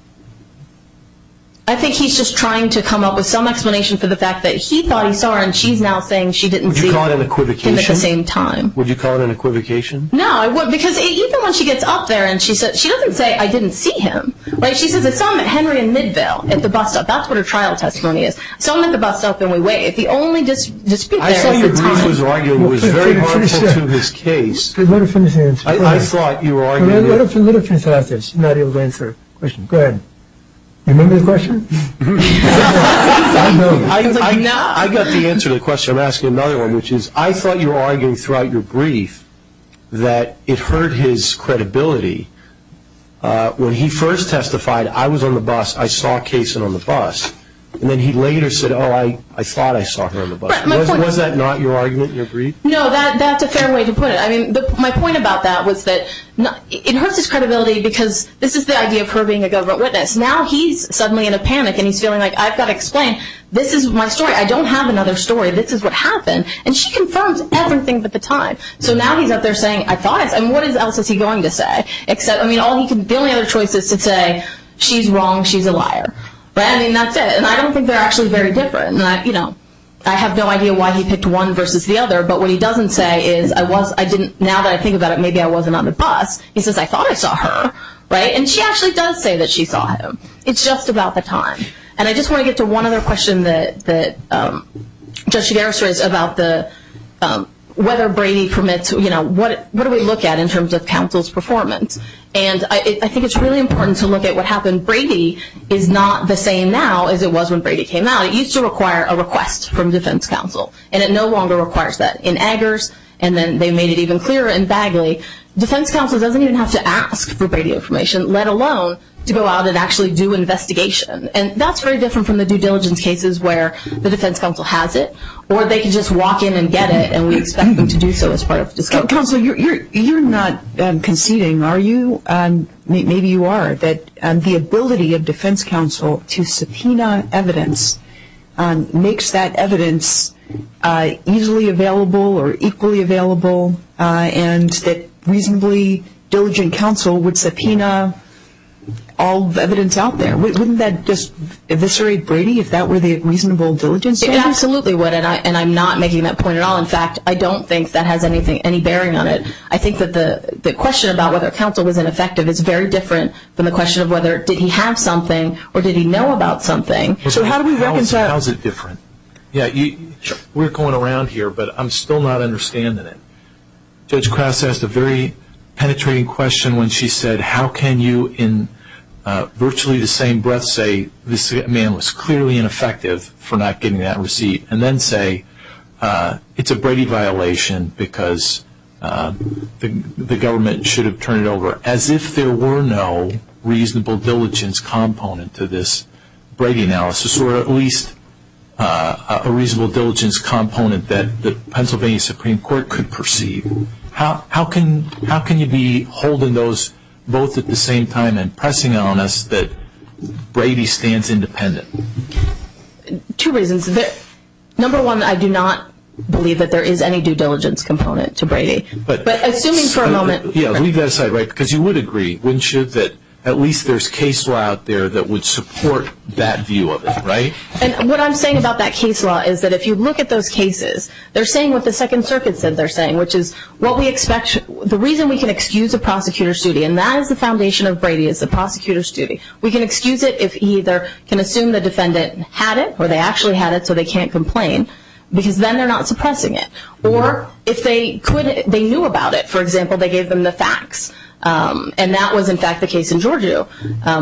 I think he's just trying to come up with some explanation for the fact that he thought he saw her and she's now saying she didn't see him. Would you call it an equivocation? At the same time. Would you call it an equivocation? No, because even when she gets up there and she doesn't say, I didn't see him. Right? She says, I saw him at Henry and Midvale at the bus stop. That's what her trial testimony is. So I'm at the bus stop, and we wait. If the only dispute there is the time. I saw you argue it was very harmful to his case. I thought you were arguing it. What if the litigants are not able to answer the question? Go ahead. Remember the question? I know. I got the answer to the question. I'm asking another one, which is, I thought you were arguing throughout your brief that it hurt his credibility. When he first testified, I was on the bus, I saw Kayson on the bus, and then he later said, oh, I thought I saw her on the bus. Was that not your argument in your brief? No, that's a fair way to put it. My point about that was that it hurts his credibility because this is the idea of her being a government witness. Now he's suddenly in a panic, and he's feeling like, I've got to explain. This is my story. I don't have another story. This is what happened. And she confirms everything but the time. So now he's out there saying, I thought. I mean, what else is he going to say? I mean, the only other choice is to say, she's wrong, she's a liar. Right? I mean, that's it. And I don't think they're actually very different. I have no idea why he picked one versus the other. But what he doesn't say is, now that I think about it, maybe I wasn't on the bus. He says, I thought I saw her. Right? And she actually does say that she saw him. It's just about the time. And I just want to get to one other question that Judge Shigeru said about whether Brady permits, you know, what do we look at in terms of counsel's performance? And I think it's really important to look at what happened. Brady is not the same now as it was when Brady came out. It used to require a request from defense counsel. And it no longer requires that. In Eggers, and then they made it even clearer in Bagley, defense counsel doesn't even have to ask for Brady information, let alone to go out and actually do an investigation. And that's very different from the due diligence cases where the defense counsel has it, or they can just walk in and get it, and we expect them to do so as part of the discovery. Counsel, you're not conceding, are you? Maybe you are. The ability of defense counsel to subpoena evidence makes that evidence easily available or equally available, and that reasonably diligent counsel would subpoena all the evidence out there. Wouldn't that just eviscerate Brady if that were the reasonable diligence? It absolutely would, and I'm not making that point at all. In fact, I don't think that has any bearing on it. I think that the question about whether counsel was ineffective is very different than the question of whether did he have something or did he know about something. How is it different? We're going around here, but I'm still not understanding it. Judge Krause asked a very penetrating question when she said, how can you in virtually the same breath say this man was clearly ineffective for not getting that receipt, and then say it's a Brady violation because the government should have turned it over, as if there were no reasonable diligence component to this Brady analysis or at least a reasonable diligence component that the Pennsylvania Supreme Court could perceive? How can you be holding those both at the same time and pressing on us that Brady stands independent? Two reasons. Number one, I do not believe that there is any due diligence component to Brady. But assuming for a moment... Leave that aside, because you would agree, wouldn't you, that at least there's case law out there that would support that view of it, right? What I'm saying about that case law is that if you look at those cases, they're saying what the Second Circuit said they're saying, which is the reason we can excuse a prosecutor's duty, and that is the foundation of Brady is the prosecutor's duty. We can excuse it if he either can assume the defendant had it, or they actually had it so they can't complain, because then they're not suppressing it. Or if they knew about it. For example, they gave them the facts, and that was in fact the case in Georgia,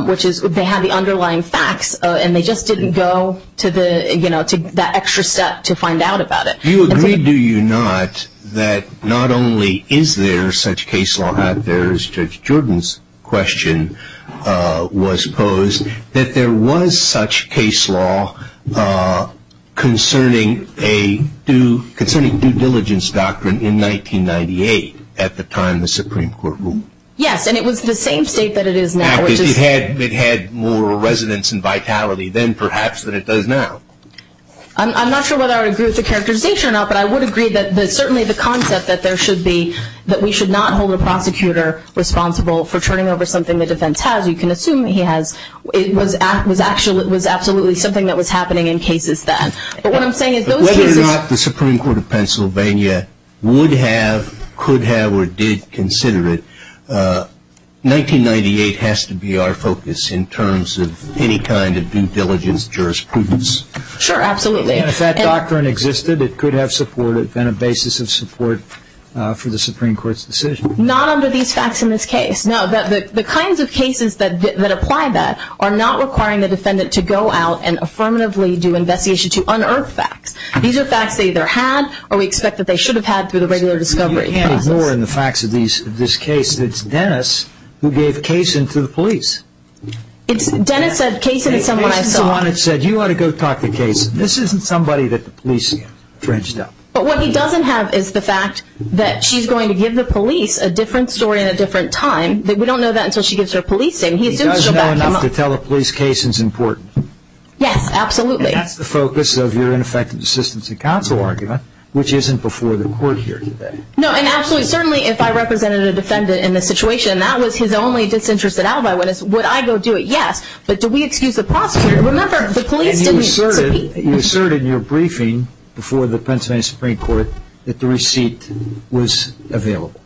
which is they had the underlying facts, and they just didn't go to that extra step to find out about it. Do you agree, do you not, that not only is there such case law out there, as Judge Jordan's question was posed, that there was such case law concerning a due diligence doctrine in 1998 at the time of the Supreme Court rule? Yes, and it was the same state that it is now. In fact, it had more resonance and vitality then perhaps than it does now. I'm not sure whether I would agree with the characterization or not, but I would agree that certainly the concept that there should be, that we should not hold a prosecutor responsible for turning over something the defense has, you can assume he has, it was absolutely something that was happening in cases then. Whether or not the Supreme Court of Pennsylvania would have, could have, or did consider it, 1998 has to be our focus in terms of any kind of due diligence jurisprudence. Sure, absolutely. And if that doctrine existed, it could have supported, been a basis of support for the Supreme Court's decision. Not under these facts in this case. No, the kinds of cases that apply that are not requiring the defendant to go out and affirmatively do investigation to unearth facts. These are facts they either had or we expect that they should have had through the regular discovery process. You can't ignore in the facts of this case that it's Dennis who gave Cason to the police. Dennis said, Cason is someone I saw. This isn't somebody that the police have dredged up. But what he doesn't have is the fact that she's going to give the police a different story at a different time. We don't know that until she gives her police statement. He does know enough to tell a police case is important. Yes, absolutely. And that's the focus of your ineffective assistance in counsel argument, which isn't before the court here today. No, and absolutely, certainly if I represented a defendant in this situation, and that was his only disinterested alibi, would I go do it? Yes. But do we excuse the prosecutor? And you asserted in your briefing before the Pennsylvania Supreme Court that the receipt was available.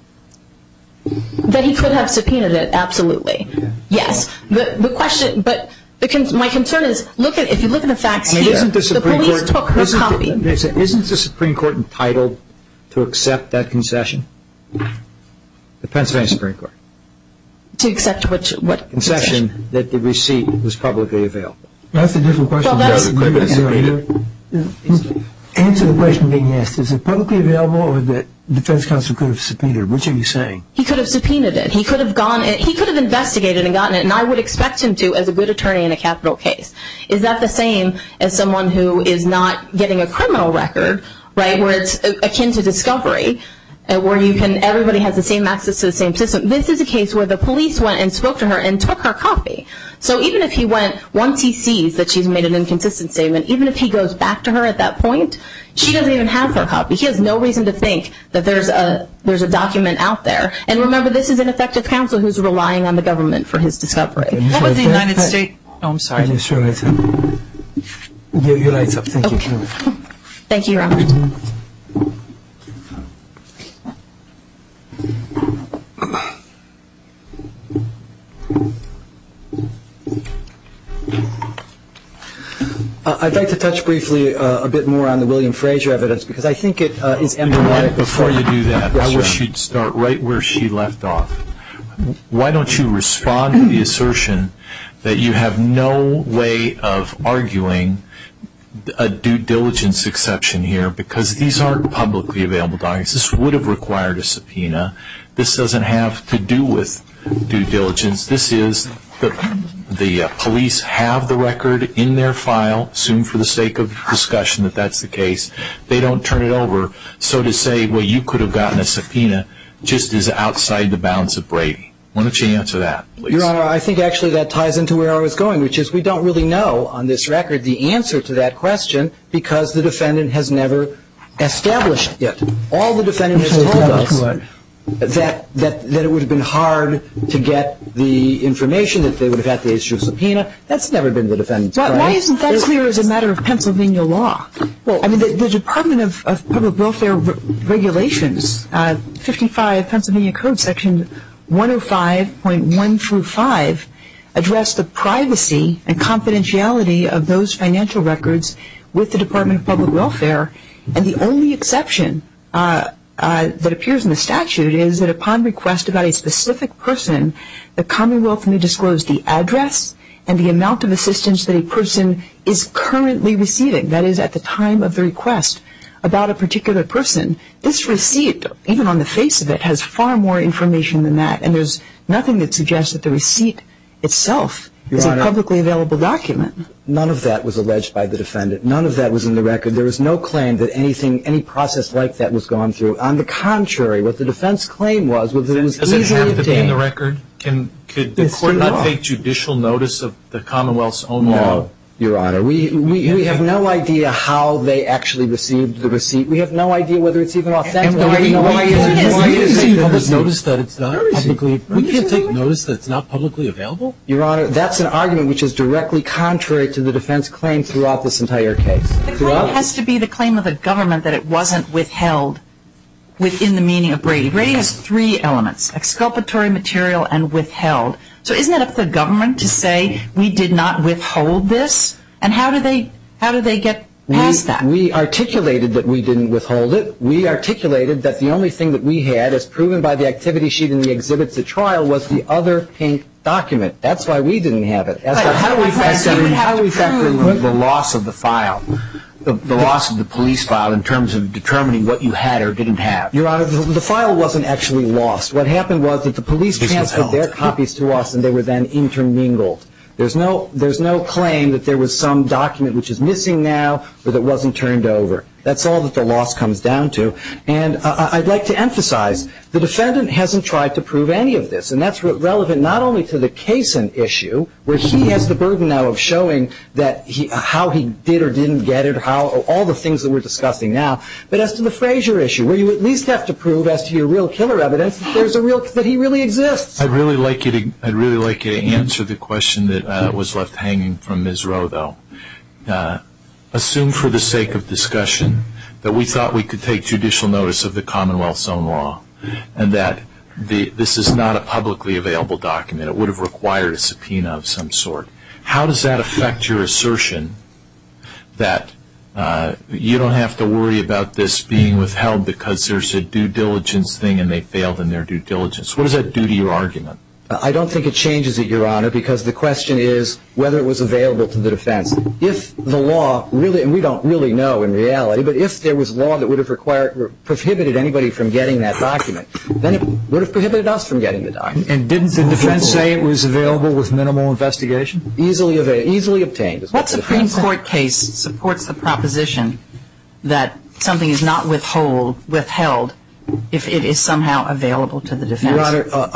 That he could have subpoenaed it, absolutely. Yes, but my concern is if you look at the facts here, the police took her copy. Isn't the Supreme Court entitled to accept that concession? To accept what concession? That the receipt was publicly available. That's a different question. Answer the question being asked. Is it publicly available or that defense counsel could have subpoenaed it? Which are you saying? He could have subpoenaed it. He could have investigated and gotten it, and I would expect him to as a good attorney in a capital case. Is that the same as someone who is not getting a criminal record, right, where it's akin to discovery, where everybody has the same access to the same system? This is a case where the police went and spoke to her and took her copy. So even if he went, once he sees that she's made an inconsistent statement, even if he goes back to her at that point, she doesn't even have her copy. He has no reason to think that there's a document out there. And remember, this is an effective counsel who's relying on the government for his discovery. What was the United States? Oh, I'm sorry. Your light's up. Thank you. Thank you, Robert. I'd like to touch briefly a bit more on the William Frazier evidence because I think it is emblematic. Before you do that, I wish you'd start right where she left off. Why don't you respond to the assertion that you have no way of arguing a due diligence exception here because these aren't publicly available documents. This would have required a subpoena. This doesn't have to do with due diligence. This is the police have the record in their file, assume for the sake of discussion that that's the case. They don't turn it over. So to say, well, you could have gotten a subpoena just is outside the bounds of Brady. Why don't you answer that, please? Your Honor, I think actually that ties into where I was going, which is we don't really know on this record the answer to that question because the defendant has never established it. All the defendants have told us that it would have been hard to get the information that they would have had to issue a subpoena. That's never been the defendant's claim. Why isn't that clear as a matter of Pennsylvania law? Well, I mean, the Department of Public Welfare regulations, 55 Pennsylvania Code Section 105.1 through 5, address the privacy and confidentiality of those financial records with the Department of Public Welfare. And the only exception that appears in the statute is that upon request about a specific person, the Commonwealth may disclose the address and the amount of assistance that a person is currently receiving. That is, at the time of the request about a particular person, this receipt, even on the face of it, has far more information than that. And there's nothing that suggests that the receipt itself is a publicly available document. None of that was alleged by the defendant. None of that was in the record. There was no claim that anything, any process like that was gone through. On the contrary, what the defense claim was was that it was easily obtained. Does it have to be in the record? Could the court not take judicial notice of the Commonwealth's own law? No, Your Honor. We have no idea how they actually received the receipt. We have no idea whether it's even authentic. We can take notice that it's not publicly available. Your Honor, that's an argument which is directly contrary to the defense claim throughout this entire case. The claim has to be the claim of the government that it wasn't withheld within the meaning of Brady. Brady has three elements, exculpatory material and withheld. So isn't it up to the government to say we did not withhold this? And how do they get past that? We articulated that we didn't withhold it. We articulated that the only thing that we had as proven by the activity sheet in the exhibits at trial was the other pink document. That's why we didn't have it. How do we factor in the loss of the file, the loss of the police file in terms of determining what you had or didn't have? Your Honor, the file wasn't actually lost. What happened was that the police transferred their copies to us and they were then intermingled. There's no claim that there was some document which is missing now or that wasn't turned over. That's all that the loss comes down to. And I'd like to emphasize the defendant hasn't tried to prove any of this, and that's relevant not only to the Cason issue, where he has the burden now of showing how he did or didn't get it, all the things that we're discussing now, but as to the Frazier issue where you at least have to prove as to your real killer evidence that he really exists. I'd really like you to answer the question that was left hanging from Ms. Rowe, though. Assume for the sake of discussion that we thought we could take judicial notice of the Commonwealth's own law and that this is not a publicly available document. It would have required a subpoena of some sort. How does that affect your assertion that you don't have to worry about this being withheld because there's a due diligence thing and they failed in their due diligence? What does that do to your argument? I don't think it changes it, Your Honor, because the question is whether it was available to the defense. If the law really, and we don't really know in reality, but if there was law that would have prohibited anybody from getting that document, then it would have prohibited us from getting the document. And didn't the defense say it was available with minimal investigation? Easily obtained. What Supreme Court case supports the proposition that something is not withheld if it is somehow available to the defense? Your Honor,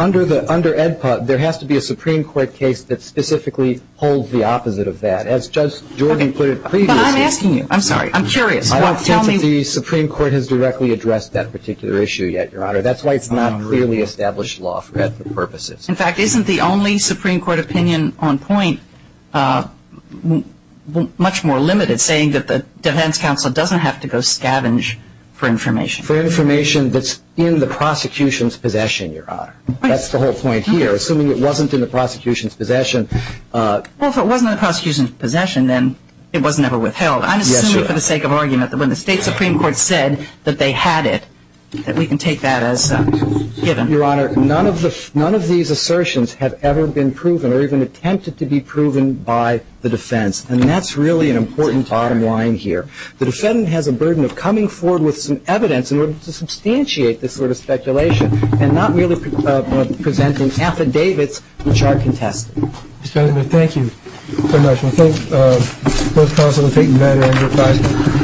under EDPA, there has to be a Supreme Court case that specifically holds the opposite of that. As Judge Jordan put it previously. I'm asking you. I'm sorry. I'm curious. I don't think that the Supreme Court has directly addressed that particular issue yet, Your Honor. That's why it's not clearly established law for ethical purposes. In fact, isn't the only Supreme Court opinion on point much more limited, saying that the defense counsel doesn't have to go scavenge for information? For information that's in the prosecution's possession, Your Honor. That's the whole point here. Assuming it wasn't in the prosecution's possession. Well, if it wasn't in the prosecution's possession, then it was never withheld. I'm assuming for the sake of argument that when the state Supreme Court said that they had it, that we can take that as given. Your Honor, none of these assertions have ever been proven or even attempted to be proven by the defense. And that's really an important bottom line here. The defendant has a burden of coming forward with some evidence in order to substantiate this sort of speculation and not merely presenting affidavits which are contested. Mr. President, thank you so much. I think both counsel have taken that into account.